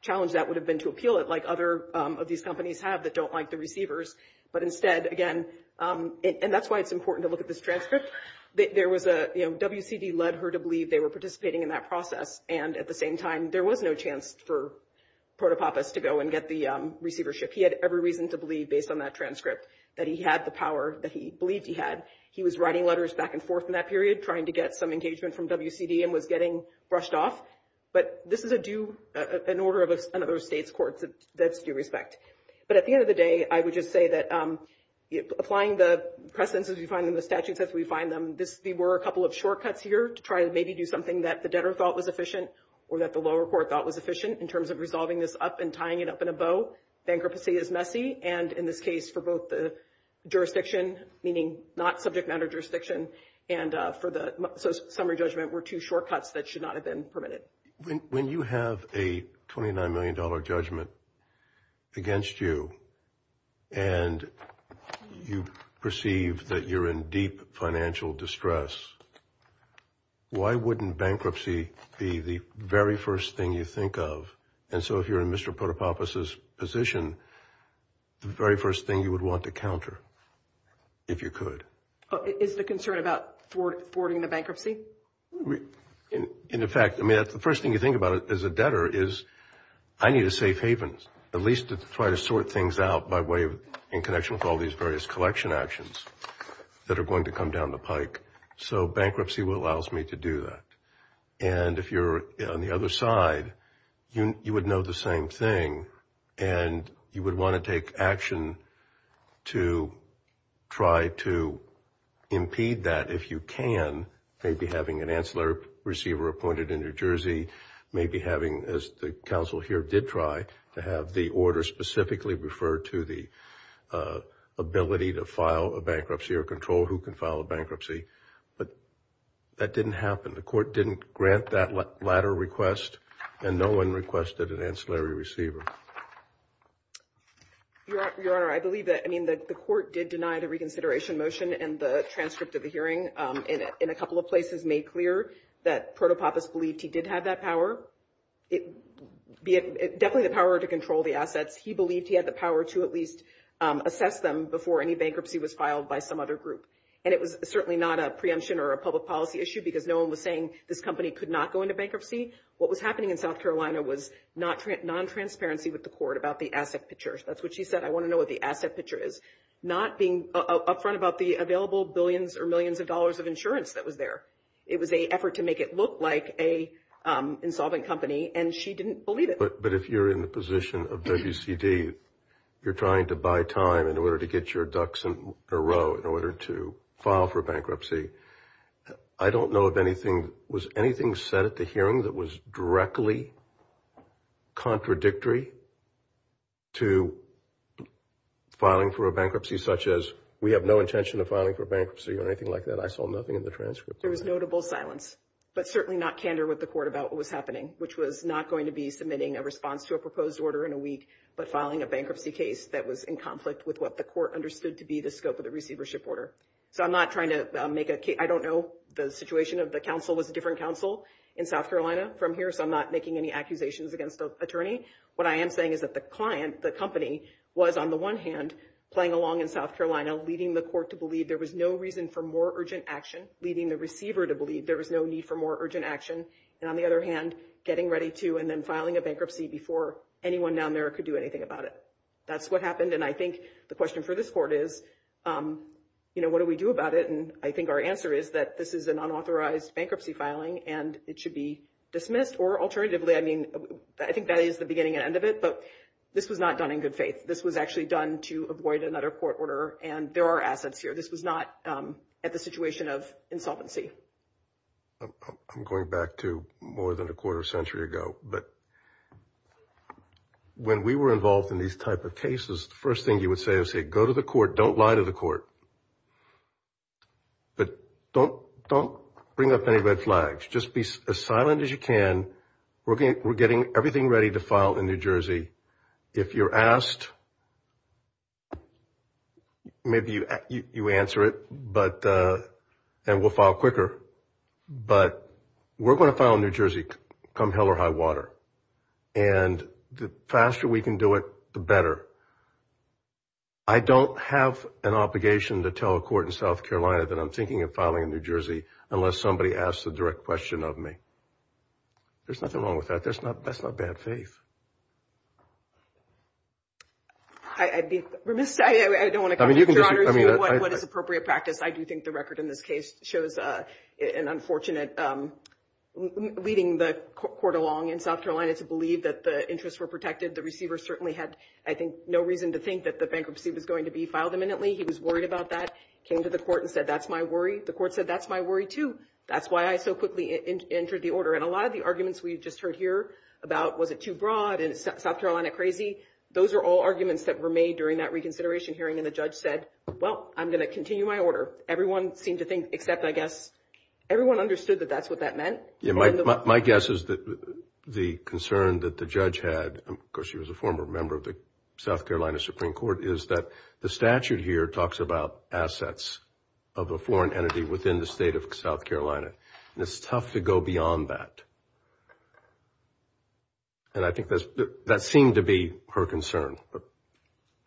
challenge that would have been to appeal it like other of these companies have that don't like the receivers, but instead, again, and that's why it's important to look at this transcript, there was a, you know, WCB led her to believe they were participating in that process, and at the same time, there was no chance for Protopopos to go and get the receivership. He had every reason to believe, based on that transcript, that he had the power that he believed he had. He was writing letters back and forth in that period, trying to get some engagement from WCB and was getting brushed off, but this is a due, an order of another state's court that's due respect, but at the end of the day, I would just say that applying the precedents as we find them, the statutes as we find them, this, there were a couple of shortcuts here to try and maybe do something that the debtor thought was efficient or that the lower court thought was efficient in terms of resolving this up and tying it up in a bow. Bankruptcy is messy, and in this case, for both the jurisdiction, meaning not subject matter jurisdiction and for the summary judgment were two shortcuts that should not have been permitted. When you have a $29 million judgment against you and you perceive that you're in deep financial distress, why wouldn't bankruptcy be the very first thing you think of? And so if you're in Mr. Potapoff's position, the very first thing you would want to counter if you could. Is the concern about thwarting the bankruptcy? In fact, the first thing you think about as a debtor is I need a safe haven at least to try to sort things out by way of in connection with all these various collection actions that are going to come down the pike. So bankruptcy allows me to do that. And if you're on the other side, you would know the same thing and you would want to take action to try to impede that if you can, maybe having an ancillary receiver appointed in New Jersey, maybe having, as the counsel here did try, to have the order specifically refer to the ability to file a bankruptcy or control who can file a bankruptcy. But that didn't happen. The court didn't grant that latter request and no one requested an ancillary receiver. Your Honor, I believe that, I mean, the court did deny the reconsideration motion and the transcript of the hearing in a couple of places made clear that Proto-Potapoff believed he did have that power. It definitely the power to control the assets. He believed he had the power to at least assess them before any bankruptcy was filed by some other group. And it was certainly not a preemption or a public policy issue because no one was saying this company could not go into bankruptcy. What was happening in South Carolina was non-transparency with the court about the asset picture. That's what she said. I want to know what the asset picture is. Not being upfront about the available billions or millions of dollars of insurance that was there. It was a effort to make it look like insolvent company and she didn't believe it. But if you're in the position of WCD, you're trying to buy time in order to get your ducks in a row in order to file for bankruptcy. I don't know of anything, was anything said at the hearing that was directly contradictory to filing for a bankruptcy such as we have no intention of filing for bankruptcy or anything like that. I saw nothing in the transcript. There was notable silence, but certainly not candor with the court about what was happening, which was not going to be submitting a response to a proposed order in a week but filing a bankruptcy case that was in conflict with what the court understood to be the scope of the receivership order. So I'm not trying to make a case. I don't know the situation of the counsel with a different counsel in South Carolina from here. So I'm not making any accusations against the attorney. What I am saying is that the client, the company was on the one hand playing along in South Carolina, leading the court to believe there was no reason for more urgent action, leading the receiver to believe there was no need for more urgent action. And on the other hand, getting ready to and then filing a bankruptcy before anyone down there could do anything about it. That's what happened. And I think the question for this court is, you know, what do we do about it? And I think our answer is that this is an unauthorized bankruptcy filing and it should be dismissed or alternatively. I mean, I think that is the beginning and end of it. But this was not done in good faith. This was actually done to avoid another court order. And there are assets here. This was not at the situation of insolvency. I'm going back to more than a quarter century ago, but when we were involved in these type of cases, the first thing you would say is, hey, go to the court, don't lie to the court. But don't bring up any red flags, just be as silent as you can. We're getting everything ready to file in New Jersey. If you're asked, maybe you answer it, and we'll file quicker. But we're going to file in New Jersey come hell or high water. And the faster we can do it, the better. I don't have an obligation to tell a court in South Carolina that I'm thinking of filing in New Jersey unless somebody asks the direct question of me. There's nothing wrong with that. That's not bad faith. I'd be remiss. I don't want to come to your honor and do what is appropriate practice. I do think the record in this case shows an unfortunate leading the court along in South Carolina to believe that the interests were protected. The receiver certainly had, I think, no reason to think that the bankruptcy was going to be filed imminently. He was worried about that, came to the court and said, that's my worry. The court said, that's my worry too. That's why I so quickly entered the order. And a lot of the arguments we've just heard here about was it too broad and South Carolina crazy, those are all arguments that were made during that reconsideration hearing. And the judge said, well, I'm going to continue my order. Everyone seems to think, except, I guess, everyone understood that that's what that meant. Yeah, my guess is that the concern that the judge had, because she was a former member of the South Carolina Supreme Court, is that the statute here talks about assets of a foreign entity within the state of South Carolina. It's tough to go beyond that. And I think that seemed to be her concern, but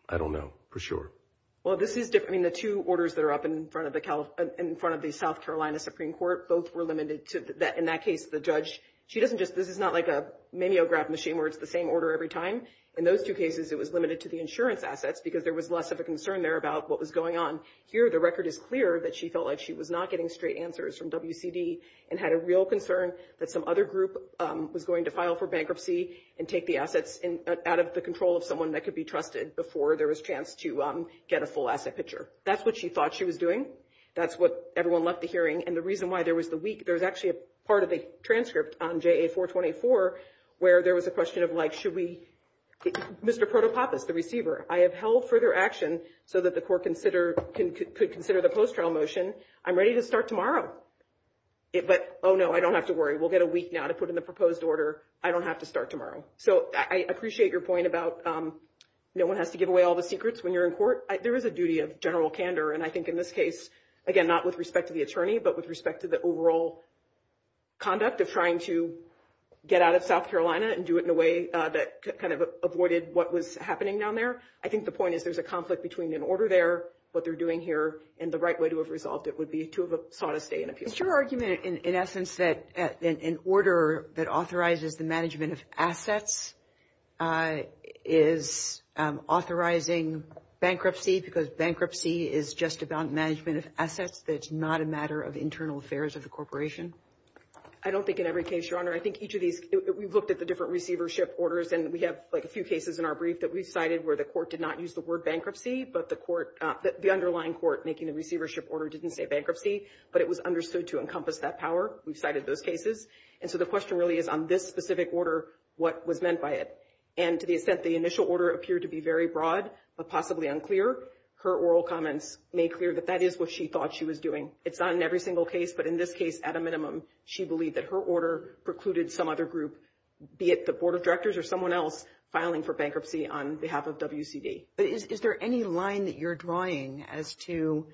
I don't know for sure. Well, this is different in the two orders that are up in front of the South Carolina Supreme Court. Both were limited to that. In that case, the judge, she doesn't just, this is not like a maniograph machine where it's the same order every time. In those two cases, it was limited to the insurance assets because there was less of a concern there about what was going on. Here, the record is clear that she felt like she was not getting straight answers from WCD and had a real concern that some other group was going to file for bankruptcy and take the assets out of the control of someone that could be trusted before there was a chance to get a full asset picture. That's what she thought she was doing. That's what everyone left the hearing. And the reason why there was the week, there was actually a part of a transcript on JA 424 where there was a question of like, should we, Mr. Protopappas, the receiver, I have held further action so that the court could consider the post-trial motion. I'm ready to start tomorrow. But, oh no, I don't have to worry. We'll get a week now to put in the proposed order. I don't have to start tomorrow. So I appreciate your point about no one has to give away all the secrets when you're in court. There is a duty of general candor. And I think in this case, again, not with respect to the attorney, but with respect to the overall conduct of trying to get out of South Carolina and do it in a way that kind of avoided what was happening down there. I think the point is there's a conflict between an order there, what they're doing here, and the right way to have resolved it would be to have sought a stay in a few days. Is your argument in essence that an order that authorizes the management of assets is authorizing bankruptcy because bankruptcy is just about management of assets, that it's not a matter of internal affairs of the corporation? I don't think in every case, Your Honor. I think each of these, we've looked at the different receivership orders and we have like a few cases in our brief that we've cited where the court did not use the word bankruptcy, but the court, the underlying court making the receivership order didn't say bankruptcy, but it was understood to encompass that power. We've cited those cases. And so the question really is on this specific order, what was meant by it? And to the extent the initial order appeared to be very broad, but possibly unclear, her oral comments made clear that that is what she thought she was doing. It's not in every single case, but in this case, at a minimum, she believed that her order precluded some other group, be it the board of directors or someone else filing for bankruptcy on behalf of WCD. But is there any line that you're drawing as to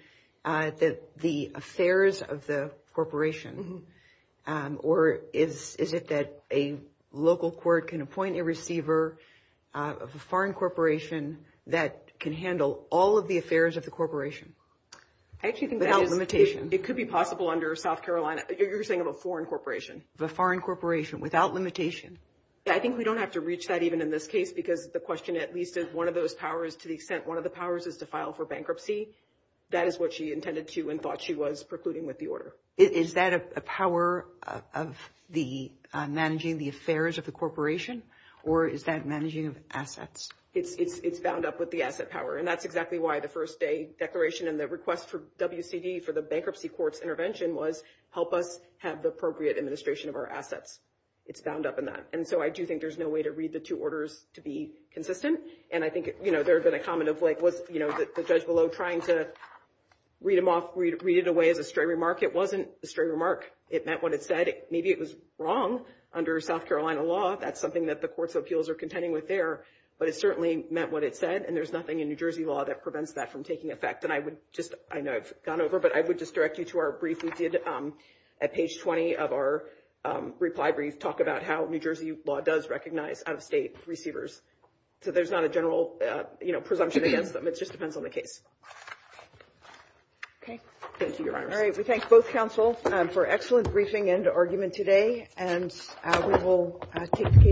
the affairs of the corporation? Or is it that a local court can appoint a receiver of a foreign corporation that can handle all of the affairs of the corporation? I actually think that's a limitation. It could be possible under South Carolina, but you're saying of a foreign corporation. The foreign corporation without limitation. I think we don't have to reach that even in this case, because the question, at least if one of those powers, to the extent one of the powers is to file for bankruptcy, that is what she intended to and thought she was precluding with the order. Is that a power of managing the affairs of the corporation? Or is that managing of assets? It's bound up with the asset power. And that's exactly why the first day declaration and the request for WCD for the bankruptcy court's intervention was help us have the appropriate administration of our assets. It's bound up in that. And so I do think there's no way to read the two orders to be consistent. And I think there's been a comment of the judge below trying to read it away as a straight remark. It wasn't a straight remark. It meant what it said. Maybe it was wrong under South Carolina law. That's something that the courts of appeals are contending with there. But it certainly meant what it said. And there's nothing in New Jersey law that prevents that from taking effect. And I would just, I know it's gone over, but I would just direct you to our brief. We did at page 20 of our reply brief talk about how New Jersey law does recognize out-of-state receivers. So there's not a general, you know, presumption against them. It just depends on the case. Okay. Thank you, Your Honor. All right. We thank both counsel for excellent briefing and argument today. And we will take.